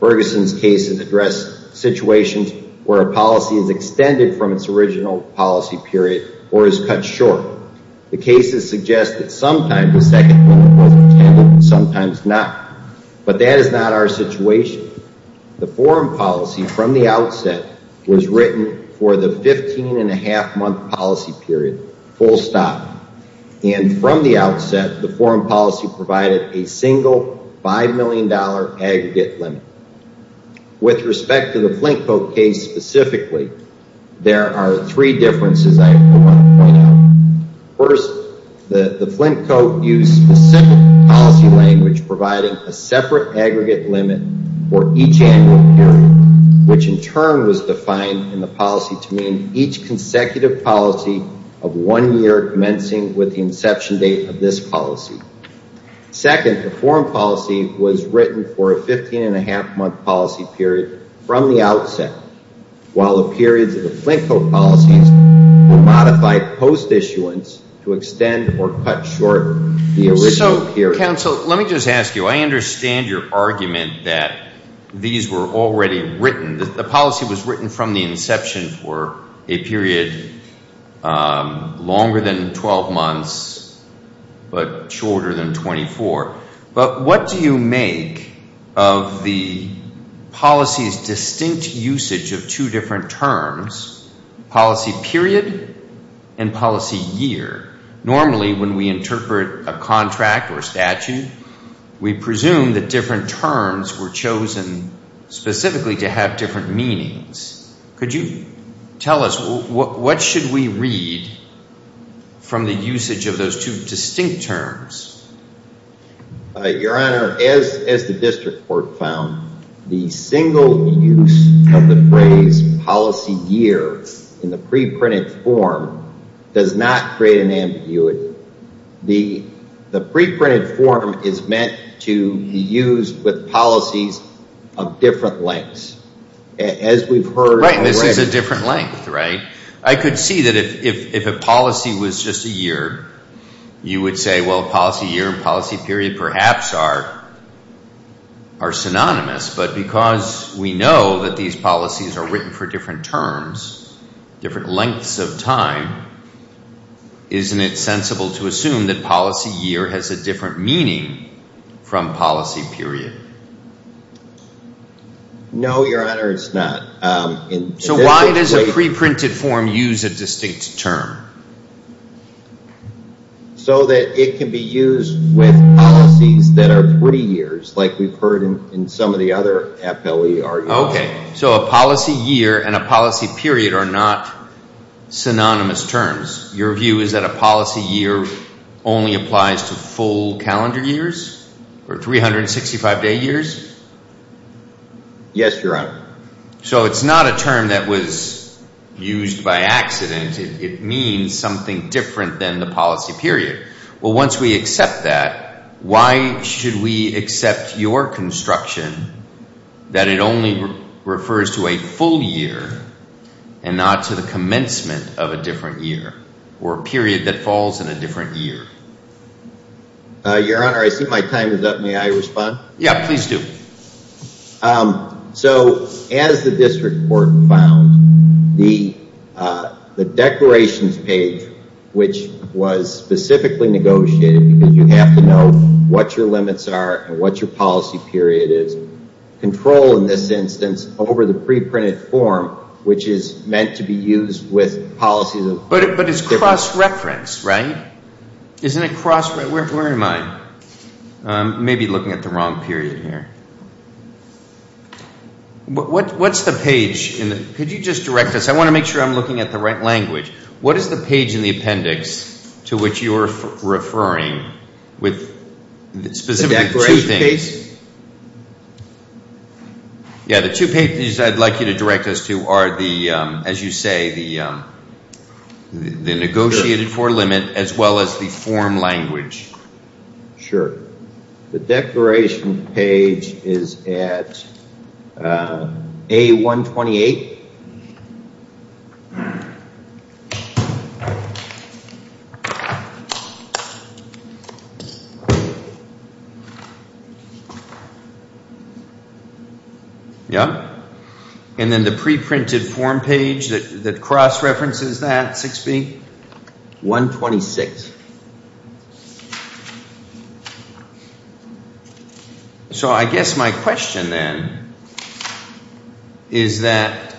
Ferguson's case has addressed situations where a policy is extended from its original policy period or is cut short. The cases suggest that sometimes it's extended, sometimes not. But that is not our situation. The foreign policy from the outset was written for the 15 and a half month policy period, full stop. And from the outset, the foreign policy provided a single $5 million aggregate limit. With respect to the Flintcoat case specifically, there are three differences. First, the Flintcoat used a simple policy language providing a separate aggregate limit for each annual period, which in turn was defined in the policy to mean each consecutive policy of one year commencing with the inception date of this policy. Second, the foreign policy was written for a 15 and a half month policy period from the outset while the period of the Flintcoat policy was modified post issuance to extend or cut short the original period. So let me just ask you, I understand your argument that these were already written, that the policy was written from the inception for a period longer than 12 months but shorter than 24, but what do you make of the policy's distinct usage of two different terms, policy period and policy year? Normally when we interpret a contract or a statute, we presume that different terms were chosen specifically to have different meanings. Could you tell us what should we read from the usage of those two distinct terms? Your Honor, as the district court found, the single use of the phrase policy year in the pre-printed form does not create an ambiguity. The pre-printed form is meant to be used with policies of different lengths. As we've heard... Right, this is a different length, right? I could see that if a policy was just a year, you would say, well, policy year and policy period perhaps are synonymous. But because we know that these policies are written for different terms, different lengths of time, isn't it sensible to assume that policy year has a different meaning from policy period? No, Your Honor, it's not. So why does a pre-printed form use a distinct term? So that it can be used with policies that are three years, like we've heard in some of the other FLE arguments. Okay, so a policy year and a policy period are not synonymous terms. Your view is that a policy year only applies to full calendar years or 365-day years? Yes, Your Honor. So it's not a term that was used by accident. It means something different than the policy period. Well, once we accept that, why should we accept your construction that it only refers to a full year and not to the commencement of a different year or a period that falls in a different year? Your Honor, I think my time is up. May I respond? Yeah, please do. So as the district court found, the declarations page, which was specifically negotiated because you have to know what your limits are and what your policy period is, control in this instance over the pre-printed form, which is meant to be used with policies. But it's cross-referenced, right? Isn't it cross-referenced? Where am I? I may be looking at the wrong period here. What's the page? Could you just direct us? I want to make sure I'm looking at the right language. What is the page in the appendix to which you're referring with the specific declaration? Yeah, the two pages I'd like you to direct us to are the, as you say, the negotiated for limit as well as the form language. Sure. The declaration page is at A128. Yeah. And then the pre-printed form page that cross-references that, 6B, 126. So I guess my question then is that,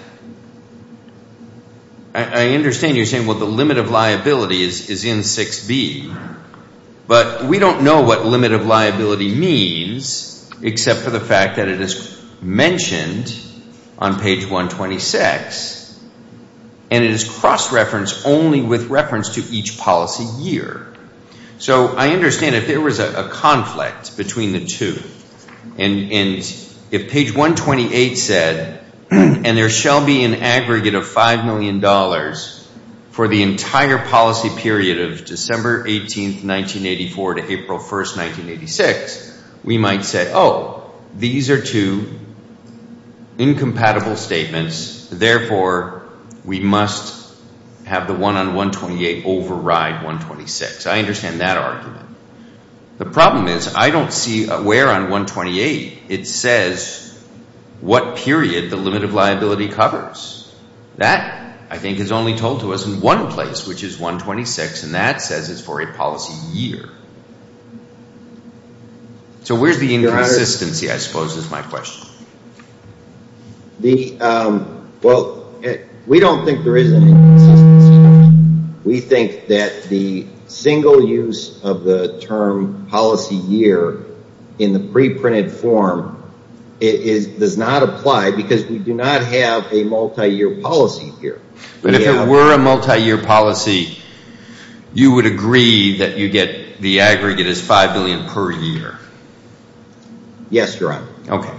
I understand you're saying, well, the limit of liability is in 6B, but we don't know what limit of liability means except for the fact that it is mentioned on page 126, and it is cross-referenced only with reference to each policy year. So I understand if there was a conflict between the two, and if page 128 said, and there shall be an aggregate of $5 million for the entire policy period of December 18th, 1984 to April 1st, 1986, we might say, oh, these are two incompatible statements. Therefore, we must have the one on 128 override 126. I understand that argument. The problem is, I don't see where on 128 it says what period the limit of liability covers. That, I think, is only told to us in one place, which is 126, and that says it's for a policy year. So where's the inconsistency, I suppose, is my question. Well, we don't think there is. We think that the single use of the term policy year in the pre-printed form does not apply because we do not have a multi-year policy period. But if it were a multi-year policy, you would agree that you get the aggregate as $5 billion per year. Yes, you're right. Okay.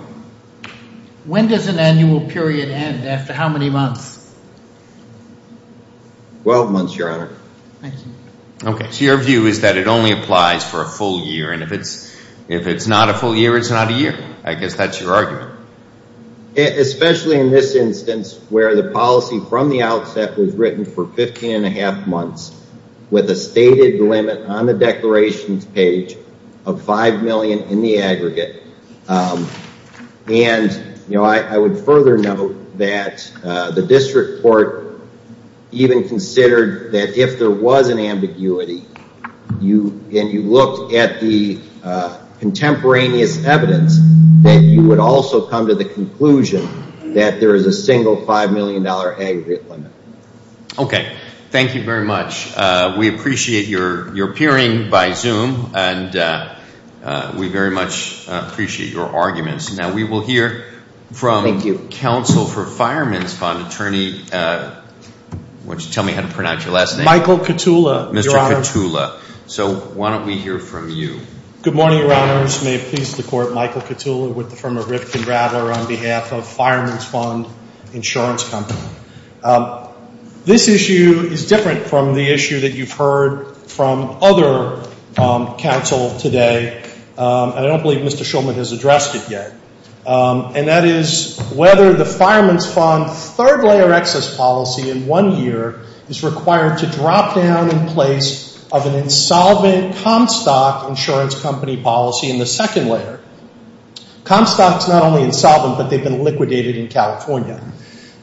When does an annual period end, and after how many months? Twelve months, Your Honor. I see. Okay. So your view is that it only applies for a full year, and if it's not a full year, it's not a year. I guess that's your argument. Especially in this instance where the policy from the outset was written for 15 and a half months with a stated limit on the declaration page of $5 million in the aggregate. And, you know, I would further note that the district court even considered that if there was an ambiguity, and you look at the contemporaneous evidence, that you would also come to the conclusion that there is a single $5 million aggregate limit. Okay. Thank you very much. We appreciate your peering by Zoom, and we very much appreciate your arguments. Now, we will hear from counsel for Fireman's Fund attorney. Why don't you tell me how to pronounce your last name? Michael Katula, Your Honor. Mr. Katula. So why don't we hear from you? Good morning, Your Honors. May it please the Court, Michael Katula from Erifta, Brattler on behalf of Fireman's Fund Insurance Company. This issue is different from the issue that you've heard from other counsel today, and I don't believe Mr. Schulman has addressed it yet. And that is whether the Fireman's Fund third way of access policy in one year is required to drop down in place of an insolvent Comstock Insurance Company policy in the second layer. Comstock is not only insolvent, but they've been liquidated in California.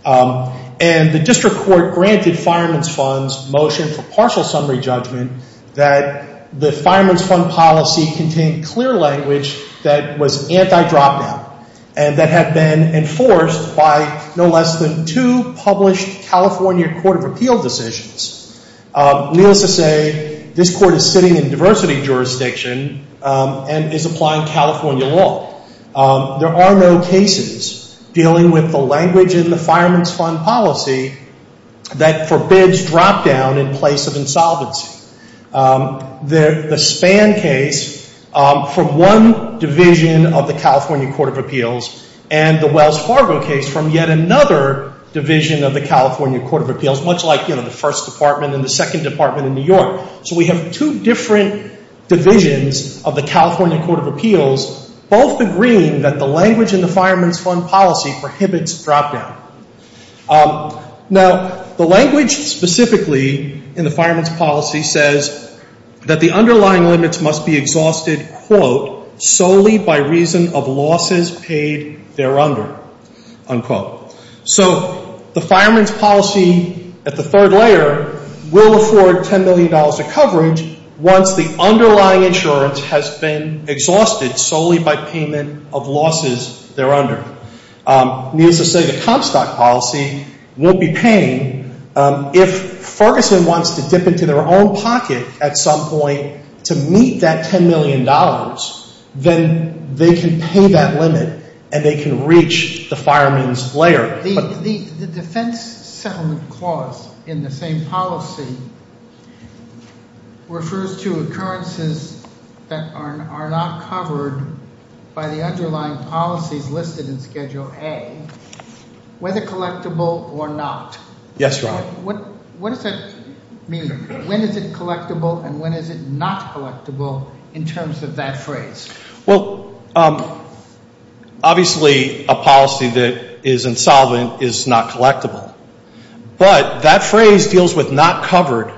And the district court granted Fireman's Fund's motion for partial summary judgment that the Fireman's Fund policy contained clear language that was anti-drop down, and that had been enforced by no less than two published California Court of Appeals decisions. Needless to say, this court is sitting in diversity jurisdiction and is applying California law. There are no cases dealing with the language in the Fireman's Fund policy that forbids drop down in place of insolvency. The Spann case from one division of the California Court of Appeals, and the Wells Fargo case from yet another division of the California Court of Appeals, much like the first department and the second department in New York. So we have two different divisions of the California Court of Appeals, both agreeing that the language in the Fireman's Fund policy prohibits drop down. Now, the language specifically in the Fireman's Policy says that the underlying limits must be exhausted, quote, solely by reason of losses paid there under, unquote. So the Fireman's Policy, at the third layer, will afford $10 million of coverage once the underlying insurance has been exhausted solely by payment of losses there under. Needless to say, the Trump stock policy won't be paying. If Ferguson wants to dip into their own pocket at some point to meet that $10 million, then they can prove that limit, and they can reach the fireman's layer. The defense settlement clause in the same policy refers to occurrences that are not covered by the underlying policies listed in Schedule A, whether collectible or not. Yes, Your Honor. What does that mean? When is it collectible, and when is it not collectible in terms of that phrase? Well, obviously, a policy that is insolvent is not collectible. But that phrase deals with not covered.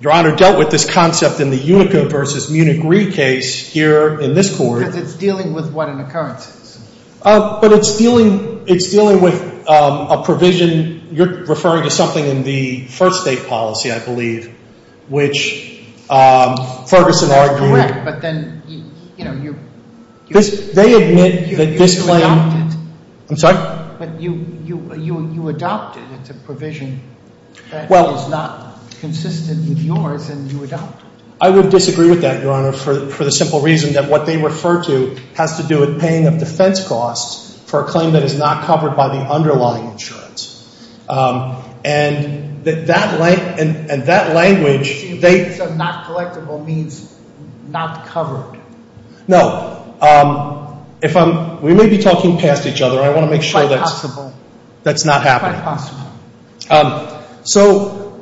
Your Honor dealt with this concept in the Unicorn v. Munich Reed case here in this court. Because it's dealing with what? An occurrence? But it's dealing with a provision. You're referring to something in the first date policy, I believe, which Ferguson argued. But then, you know, you... They admit that this claim... I'm sorry? But you adopted the provision that was not consistent with yours, and you adopted it. I would disagree with that, Your Honor, for the simple reason that what they refer to has to do with paying a defense cost for a claim that is not covered by the underlying insurance. And that language... So, not collectible means not covered? No. If I'm... We may be talking past each other. I want to make sure that's not happening. Quite possible. So,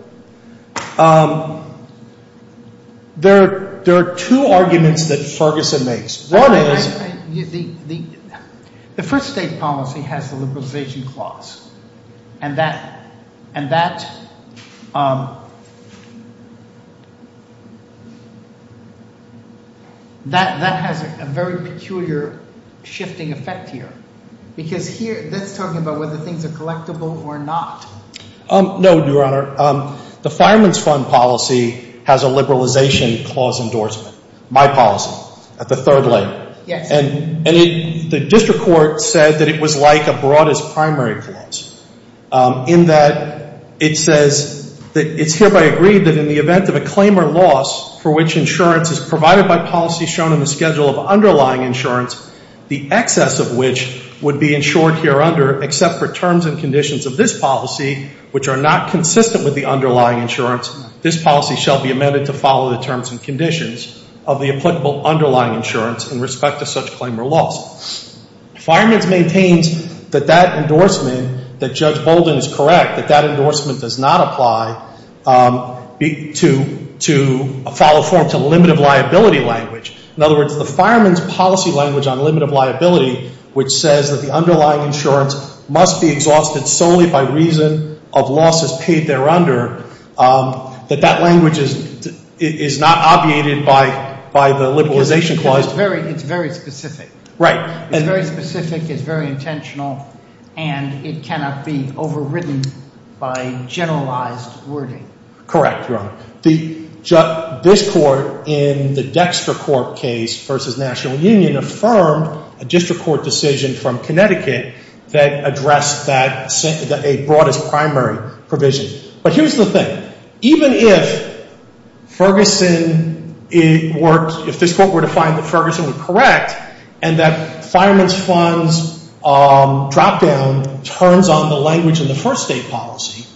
there are two arguments that Ferguson makes. One is that the first date policy has a liberalization clause. And that has a very peculiar shifting effect here. Because here, this is talking about whether things are collectible or not. No, Your Honor. The finance fund policy has a liberalization clause endorsement. My policy, at the third letter. Yes. And the district court said that it was like a broadest primary clause. In that, it says that it's hereby agreed that in the event of a claim or loss for which insurance is provided by policy shown in the schedule of underlying insurance, the excess of which would be insured here under, except for terms and conditions of this policy, which are not consistent with the underlying insurance, this policy shall be amended to follow the terms and conditions. Of the applicable underlying insurance in respect to such claim or loss. Fireman maintains that that endorsement, that Judge Holden is correct, that that endorsement does not apply to a follow form to limited liability language. In other words, the fireman's policy language on limited liability, which says that the underlying insurance must be exhausted solely by reason of losses paid there by the liberalization clause. It's very specific. Right. It's very specific. It's very intentional. And it cannot be overridden by generalized wording. Correct, Your Honor. The district court in the Dexter Court case versus National Union affirmed a district court decision from Connecticut that addressed a broadest primary provision. But here's the thing. Even if Ferguson works, if the district court were to find that Ferguson was correct and that finance fund's drop down turns on the language in the first state policy,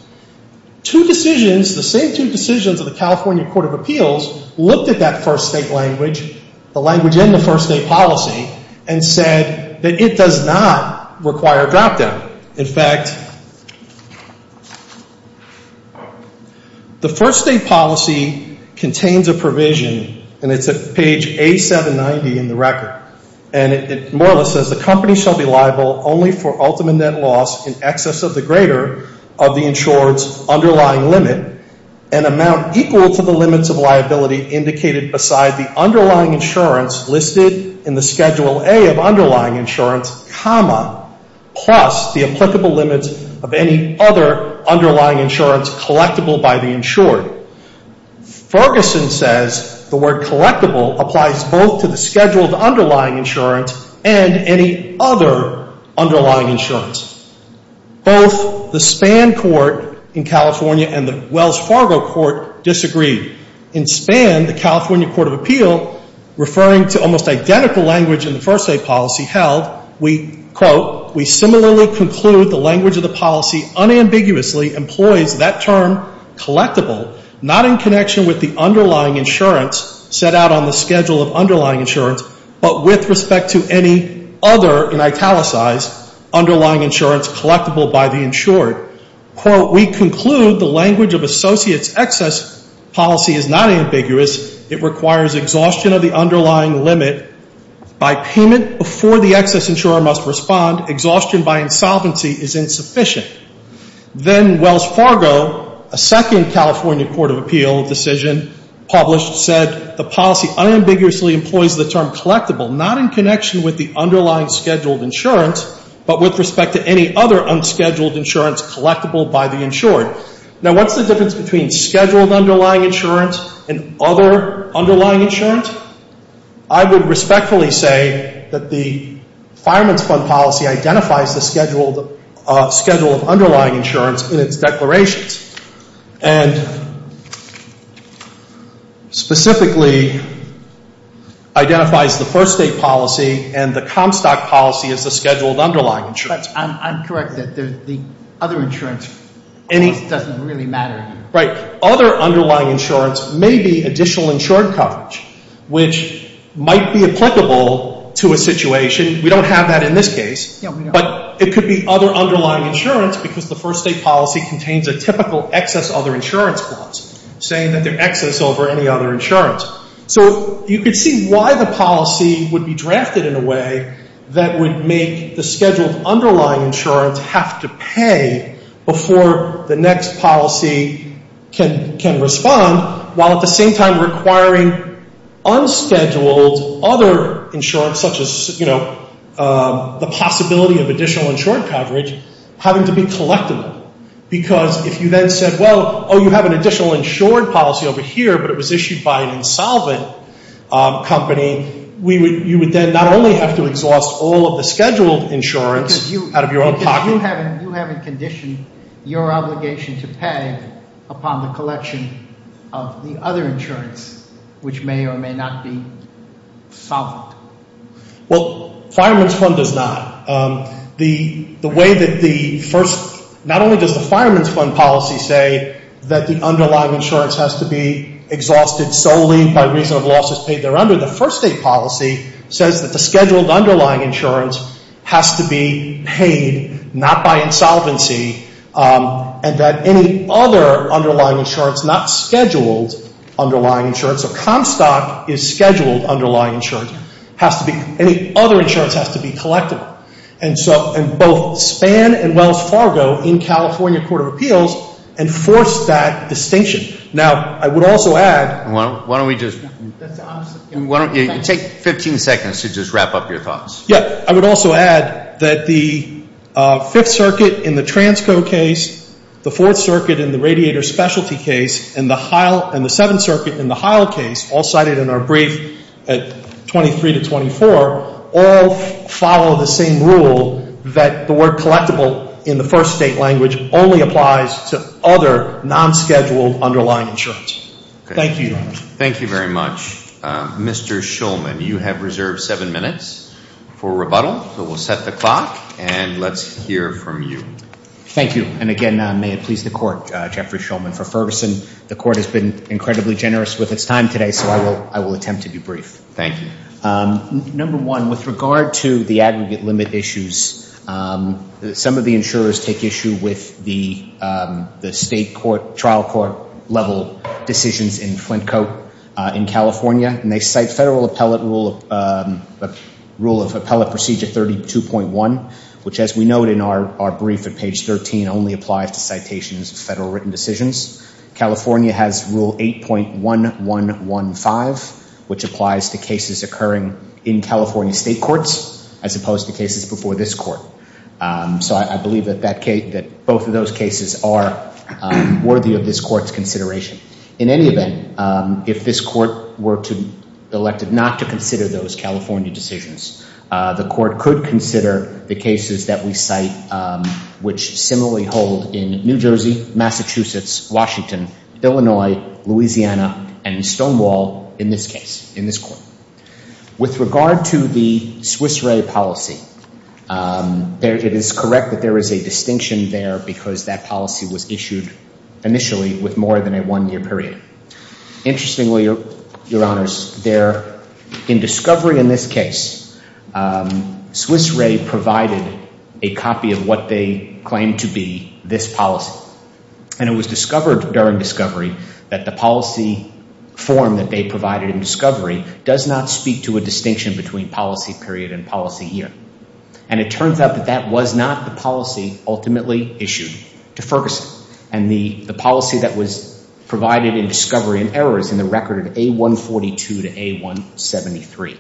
two decisions, the same two decisions of the California Court of Appeals, looked at that first state language, the language in the first state policy, and said that it does not require a drop down. In fact, the first state policy contains a provision and it's at page 879B in the record. And it more or less says the company shall be liable only for ultimate net loss in excess of the greater of the insured's underlying limit and amount equal to the limits of liability indicated beside the underlying insurance listed in the Schedule A of underlying insurance comma plus the applicable limits of any other underlying insurance collectible by the insured. Ferguson says the word collectible applies both to the Schedule A's underlying insurance and any other underlying insurance. Both the Span Court in California and the Wells Fargo Court disagreed. In Span, the California Court of Appeals, referring to almost identical language in the first state policy held, we, quote, we similarly conclude the language of the policy unambiguously employed that term collectible not in connection with the underlying insurance set out on the Schedule of underlying insurance, but with respect to any other, and I italicize, underlying insurance collectible by the insured. Quote, we conclude the language of associate's excess policy is not ambiguous. It requires exhaustion of the underlying limit by payment before the excess insurer must respond. Exhaustion by insolvency is insufficient. Then Wells Fargo, a second California Court of Appeals decision published said, the policy unambiguously employs the term collectible not in connection with the underlying Schedule of insurance, but with respect to any other unscheduled insurance collectible by the insured. Now, what's the difference between Schedule of underlying insurance and other underlying insurance? I would respectfully say that the Finance Fund policy identifies the Schedule of underlying insurance in its declarations and specifically identifies the first state policy and the Comstock policy as the Schedule of underlying insurance. I'm correct that the other insurance doesn't really matter. Right. Other underlying insurance may be additional insured coverage, which might be applicable to a situation. We don't have that in this case, but it could be other underlying insurance because the first state policy contains a typical excess other insurance clause, saying that there's excess over any other insurance. So you could see why the policy would be drafted in a way that would make the Schedule of underlying insurance have to pay before the next policy can respond, while at the same time requiring unscheduled other insurance, such as, you know, the possibility of additional insured coverage having to be collectible. Because if you then said, well, oh, you have an additional insured policy over here, but it was issued by an insolvent company, you would then not only have to exhaust all of the scheduled insurance out of your own pocket. Because you have a condition, your obligation to pay upon the collection of the other insurance, which may or may not be solvent. Well, Fireman's Fund does not. The way that the first, not only does the Fireman's Fund policy say that the underlying insurance has to be exhausted solely by reason of losses paid thereunder, the first state policy says that the Schedule of underlying insurance has to be paid, not by insolvency, and that any other underlying insurance, not scheduled underlying insurance, a Comstock is scheduled underlying insurance, has to be, any other insurance has to be collectible. And so, and both Spann and Wells Fargo in California Court of Appeals enforced that distinction. Now, I would also add. Why don't we just, why don't you take 15 seconds to just wrap up your thoughts. Yes, I would also add that the Fifth Circuit in the Transco case, the Fourth Circuit in the Radiator Specialty case, and the HILE, and the Seventh Circuit in the HILE case, all cited in our brief at 23 to 24, all follow the same rule that the word collectible in the first state language only applies to other non-scheduled underlying insurance. Thank you, Your Honor. Thank you very much. Mr. Shulman, you have reserved seven minutes for rebuttal, so we'll set the clock, and let's hear from you. Thank you, and again, may it please the Court, Jeffrey Shulman for Ferguson. The Court has been incredibly generous with its time today, so I will attempt to be brief. Thank you. Number one, with regard to the aggregate limit issues, some of the insurers take issue with the state trial court level decisions in Flint Co. in California, and they cite Federal Appellate Rule of Procedure 32.1, which as we note in our brief at page 13, only applies to citations of Federal written decisions. California has Rule 8.1115, which applies to cases occurring in California state courts, as opposed to cases before this court. So I believe that both of those cases are worthy of this court's consideration. In any event, if this court were elected not to consider those California decisions, the court could consider the cases that we cite, which similarly hold in New Jersey, Massachusetts, Washington, Illinois, Louisiana, and Stonewall in this case, in this court. With regard to the Swiss Re policy, it is correct that there is a distinction there because that policy was issued initially with more than a one-year period. Interestingly, Your Honors, in discovery in this case, Swiss Re provided a copy of what they claimed to be this policy, and it was discovered during discovery that the policy form that they provided in discovery does not speak to a distinction between policy period and policy year. And it turns out that that was not the policy ultimately issued to Ferguson, and the policy that was provided in discovery in error is in the record of A142 to A173.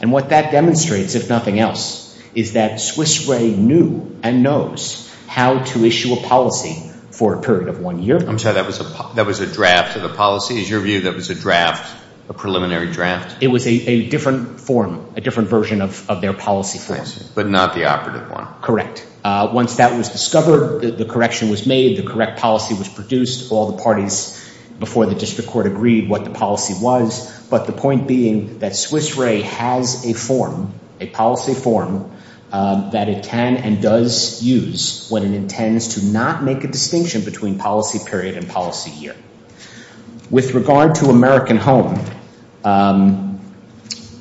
And what that demonstrates, if nothing else, is that Swiss Re knew and knows how to issue a policy for a period of one year. I'm sorry, that was a draft of the policy? Is your view that it was a draft, a preliminary draft? It was a different form, a different version of their policy form. But not the operative one. Correct. Once that was discovered, the correction was made, the correct policy was produced, all the parties before the district court agreed what the policy was, but the point being that Swiss Re has a form, a policy form, that it can and does use when it intends to not make a distinction between policy period and policy year. With regard to American Home,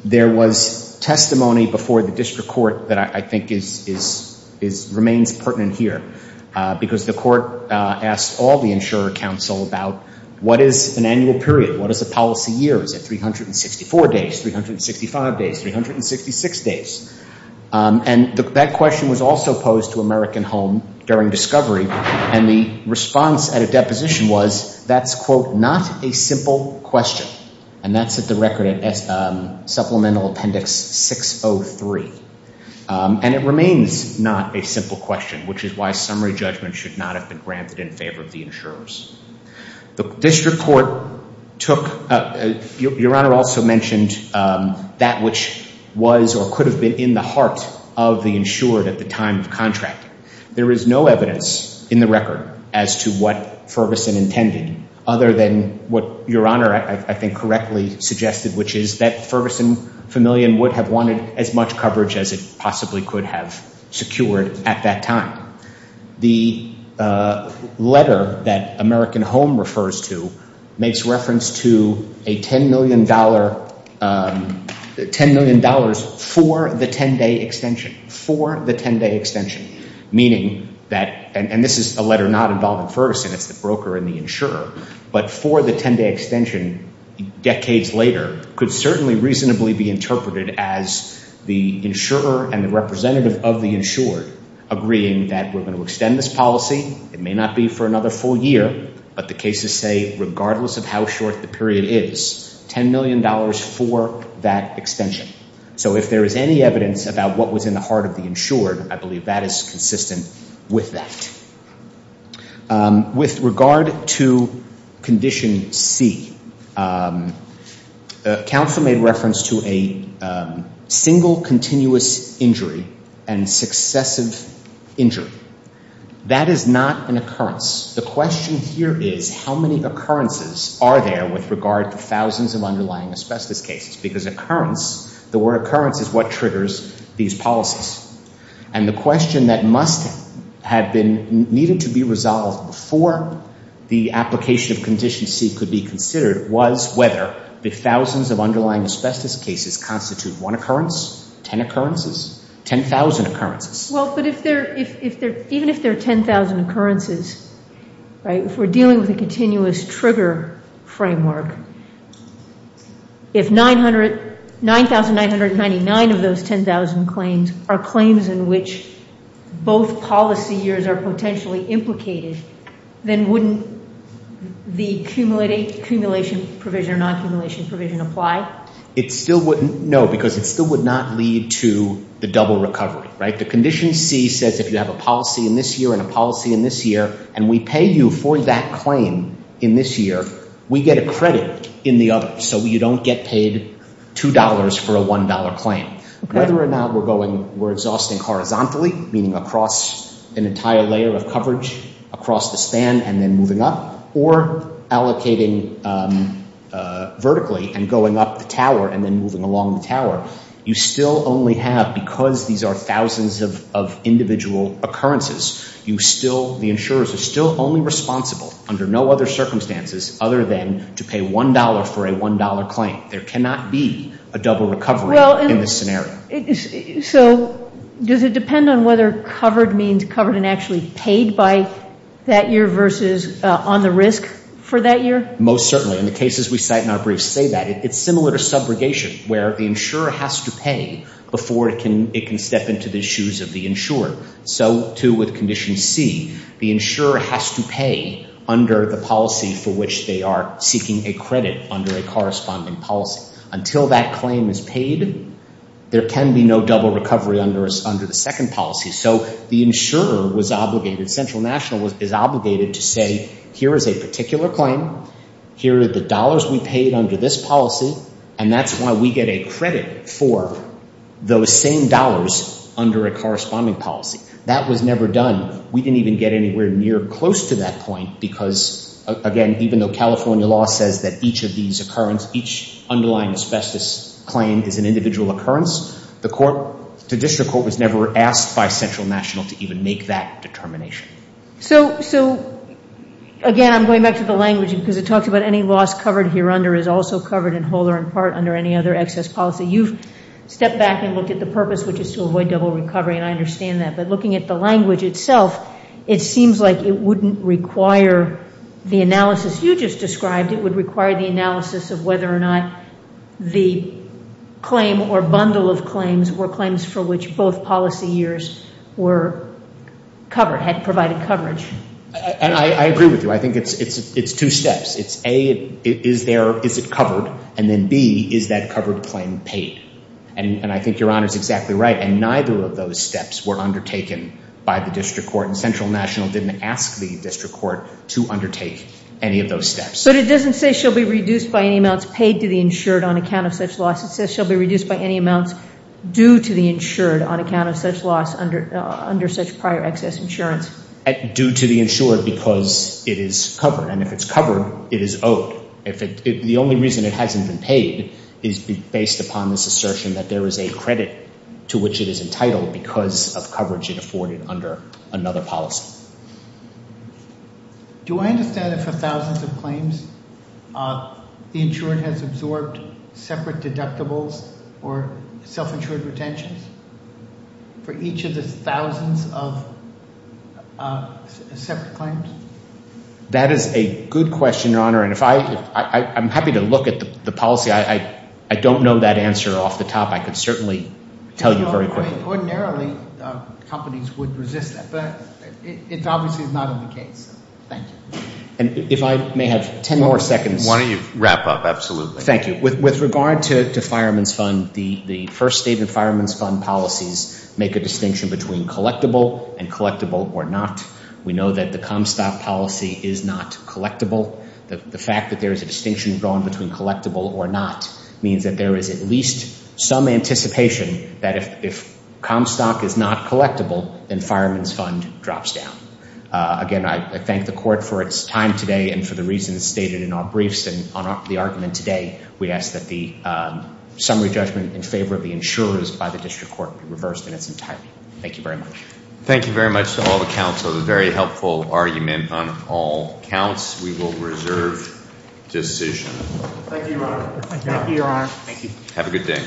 there was testimony before the district court that I think remains pertinent here, because the court asked all the insurer counsel about what is an annual period, what is a policy year, is it 364 days, 365 days, 366 days? And that question was also posed to American Home during discovery, and the response at a deposition was, that's, quote, not a simple question. And that's at the record at Supplemental Appendix 603. And it remains not a simple question, which is why summary judgment should not have been granted in favor of the insurers. The district court took, Your Honor also mentioned that which was or could have been in the heart of the insured at the time of contract. There is no evidence in the record as to what Ferguson intended, other than what Your Honor, I think, correctly suggested, which is that Ferguson Familian would have wanted as much coverage as it possibly could have secured at that time. The letter that American Home refers to makes reference to a $10 million, $10 million for the 10-day extension, for the 10-day extension, meaning that, and this is a letter not involving Ferguson, the broker and the insurer, but for the 10-day extension decades later, could certainly reasonably be interpreted as the insurer and the representative of the insured agreeing that we're going to extend this policy, it may not be for another full year, but the cases say regardless of how short the period is, $10 million for that extension. So if there is any evidence about what was in the heart of the insured, I believe that is consistent with that. With regard to Condition C, the counsel made reference to a single continuous injury and successive injury. That is not an occurrence. The question here is how many occurrences are there with regard to thousands of underlying asbestos cases, because occurrence, the word occurrence is what triggers these policies. And the question that must have been, needed to be resolved before the application of Condition C could be considered was whether the thousands of underlying asbestos cases constitute one occurrence, 10 occurrences, 10,000 occurrences. Well, but if there, even if there are 10,000 occurrences, right, if we're dealing with a continuous trigger framework, if 9,999 of those 10,000 claims are claims in which both policy years are potentially implicated, then wouldn't the cumulation provision or non-cumulation provision apply? It still wouldn't, no, because it still would not lead to the double recovery, right? The Condition C says if you have a policy in this year and a policy in this year, and we pay you for that claim in this year, we get a credit in the other. So you don't get paid $2 for a $1 claim. Whether or not we're going, we're exhausting horizontally, meaning across an entire layer of coverage across the span and then moving up, or allocating vertically and going up the tower and then moving along the tower, you still only have, because these are thousands of individual occurrences, you still, the insurers are still only responsible under no other circumstances other than to pay $1 for a $1 claim. There cannot be a double recovery in this scenario. So does it depend on whether covered means covered and actually paid by that year versus on the risk for that year? Most certainly. In the cases we cite in our briefs say that. It's similar to subrogation where the insurer has to pay before it can step into the shoes of the insurer. So too with Condition C, the insurer has to pay under the policy for which they are seeking a credit under the corresponding policy. Until that claim is paid, there can be no double recovery under the second policy. So the insurer was obligated, central national was obligated to say, here is a particular claim, here is the dollars we paid under this policy, and that's why we get a credit for those same dollars under a corresponding policy. That was never done. We didn't even get anywhere near close to that point because, again, even though California law says that each of these occurrence, each underlying asbestos claim is an individual occurrence, the court was never asked by central national to even make that determination. So again, I'm going back to the language because it talks about any loss covered here under is also covered in whole or in part under any other excess policy. You step back and look at the purpose, which is to avoid double recovery, and I understand that, but looking at the language itself, it seems like it wouldn't require the analysis you just described. It would require the analysis of whether or not the claim or bundle of claims were claims for which both policy years were covered, had provided coverage. And I agree with you. I think it's two steps. It's A, is it covered? And then B, is that covered claim paid? And I think your Honor is exactly right. And neither of those steps were undertaken by the district court. And central national didn't ask the district court to undertake any of those steps. But it doesn't say shall be reduced by any amounts paid to the insured on account of such loss, it says shall be reduced by any amounts due to the insured on account of such loss under such prior excess insurance. Due to the insured because it is covered. And if it's covered, it is owed. The only reason it hasn't been paid is based upon this assertion that there is a credit to which it is entitled because of coverage it afforded under another policy. Do I understand for thousands of claims, the insured has absorbed separate deductibles for self-insured retention for each of the thousands of separate claims? That is a good question, Your Honor. And if I, I'm happy to look at the policy. I don't know that answer off the top. I can certainly tell you very quickly. Ordinarily, companies would resist that. But it's obviously not in the case. Thank you. And if I may have 10 more seconds. Why don't you wrap up, absolutely. Thank you. With regard to fireman's fund, the first state of fireman's fund policies make a distinction between collectible and collectible or not. We know that the Comstock policy is not collectible. The fact that there is a distinction drawn between collectible or not means that there is at least some anticipation that if Comstock is not collectible, then fireman's fund drops down. Again, I thank the court for its time today and for the reasons stated in our briefs and on the argument today, we ask that the summary judgment in favor of the insurers by the district court be reversed in its entirety. Thank you very much. Thank you very much to all the counsel. It was a very helpful argument on all counts. We will reserve decisions. Thank you, Your Honor. Thank you, Your Honor. Thank you. Have a good day.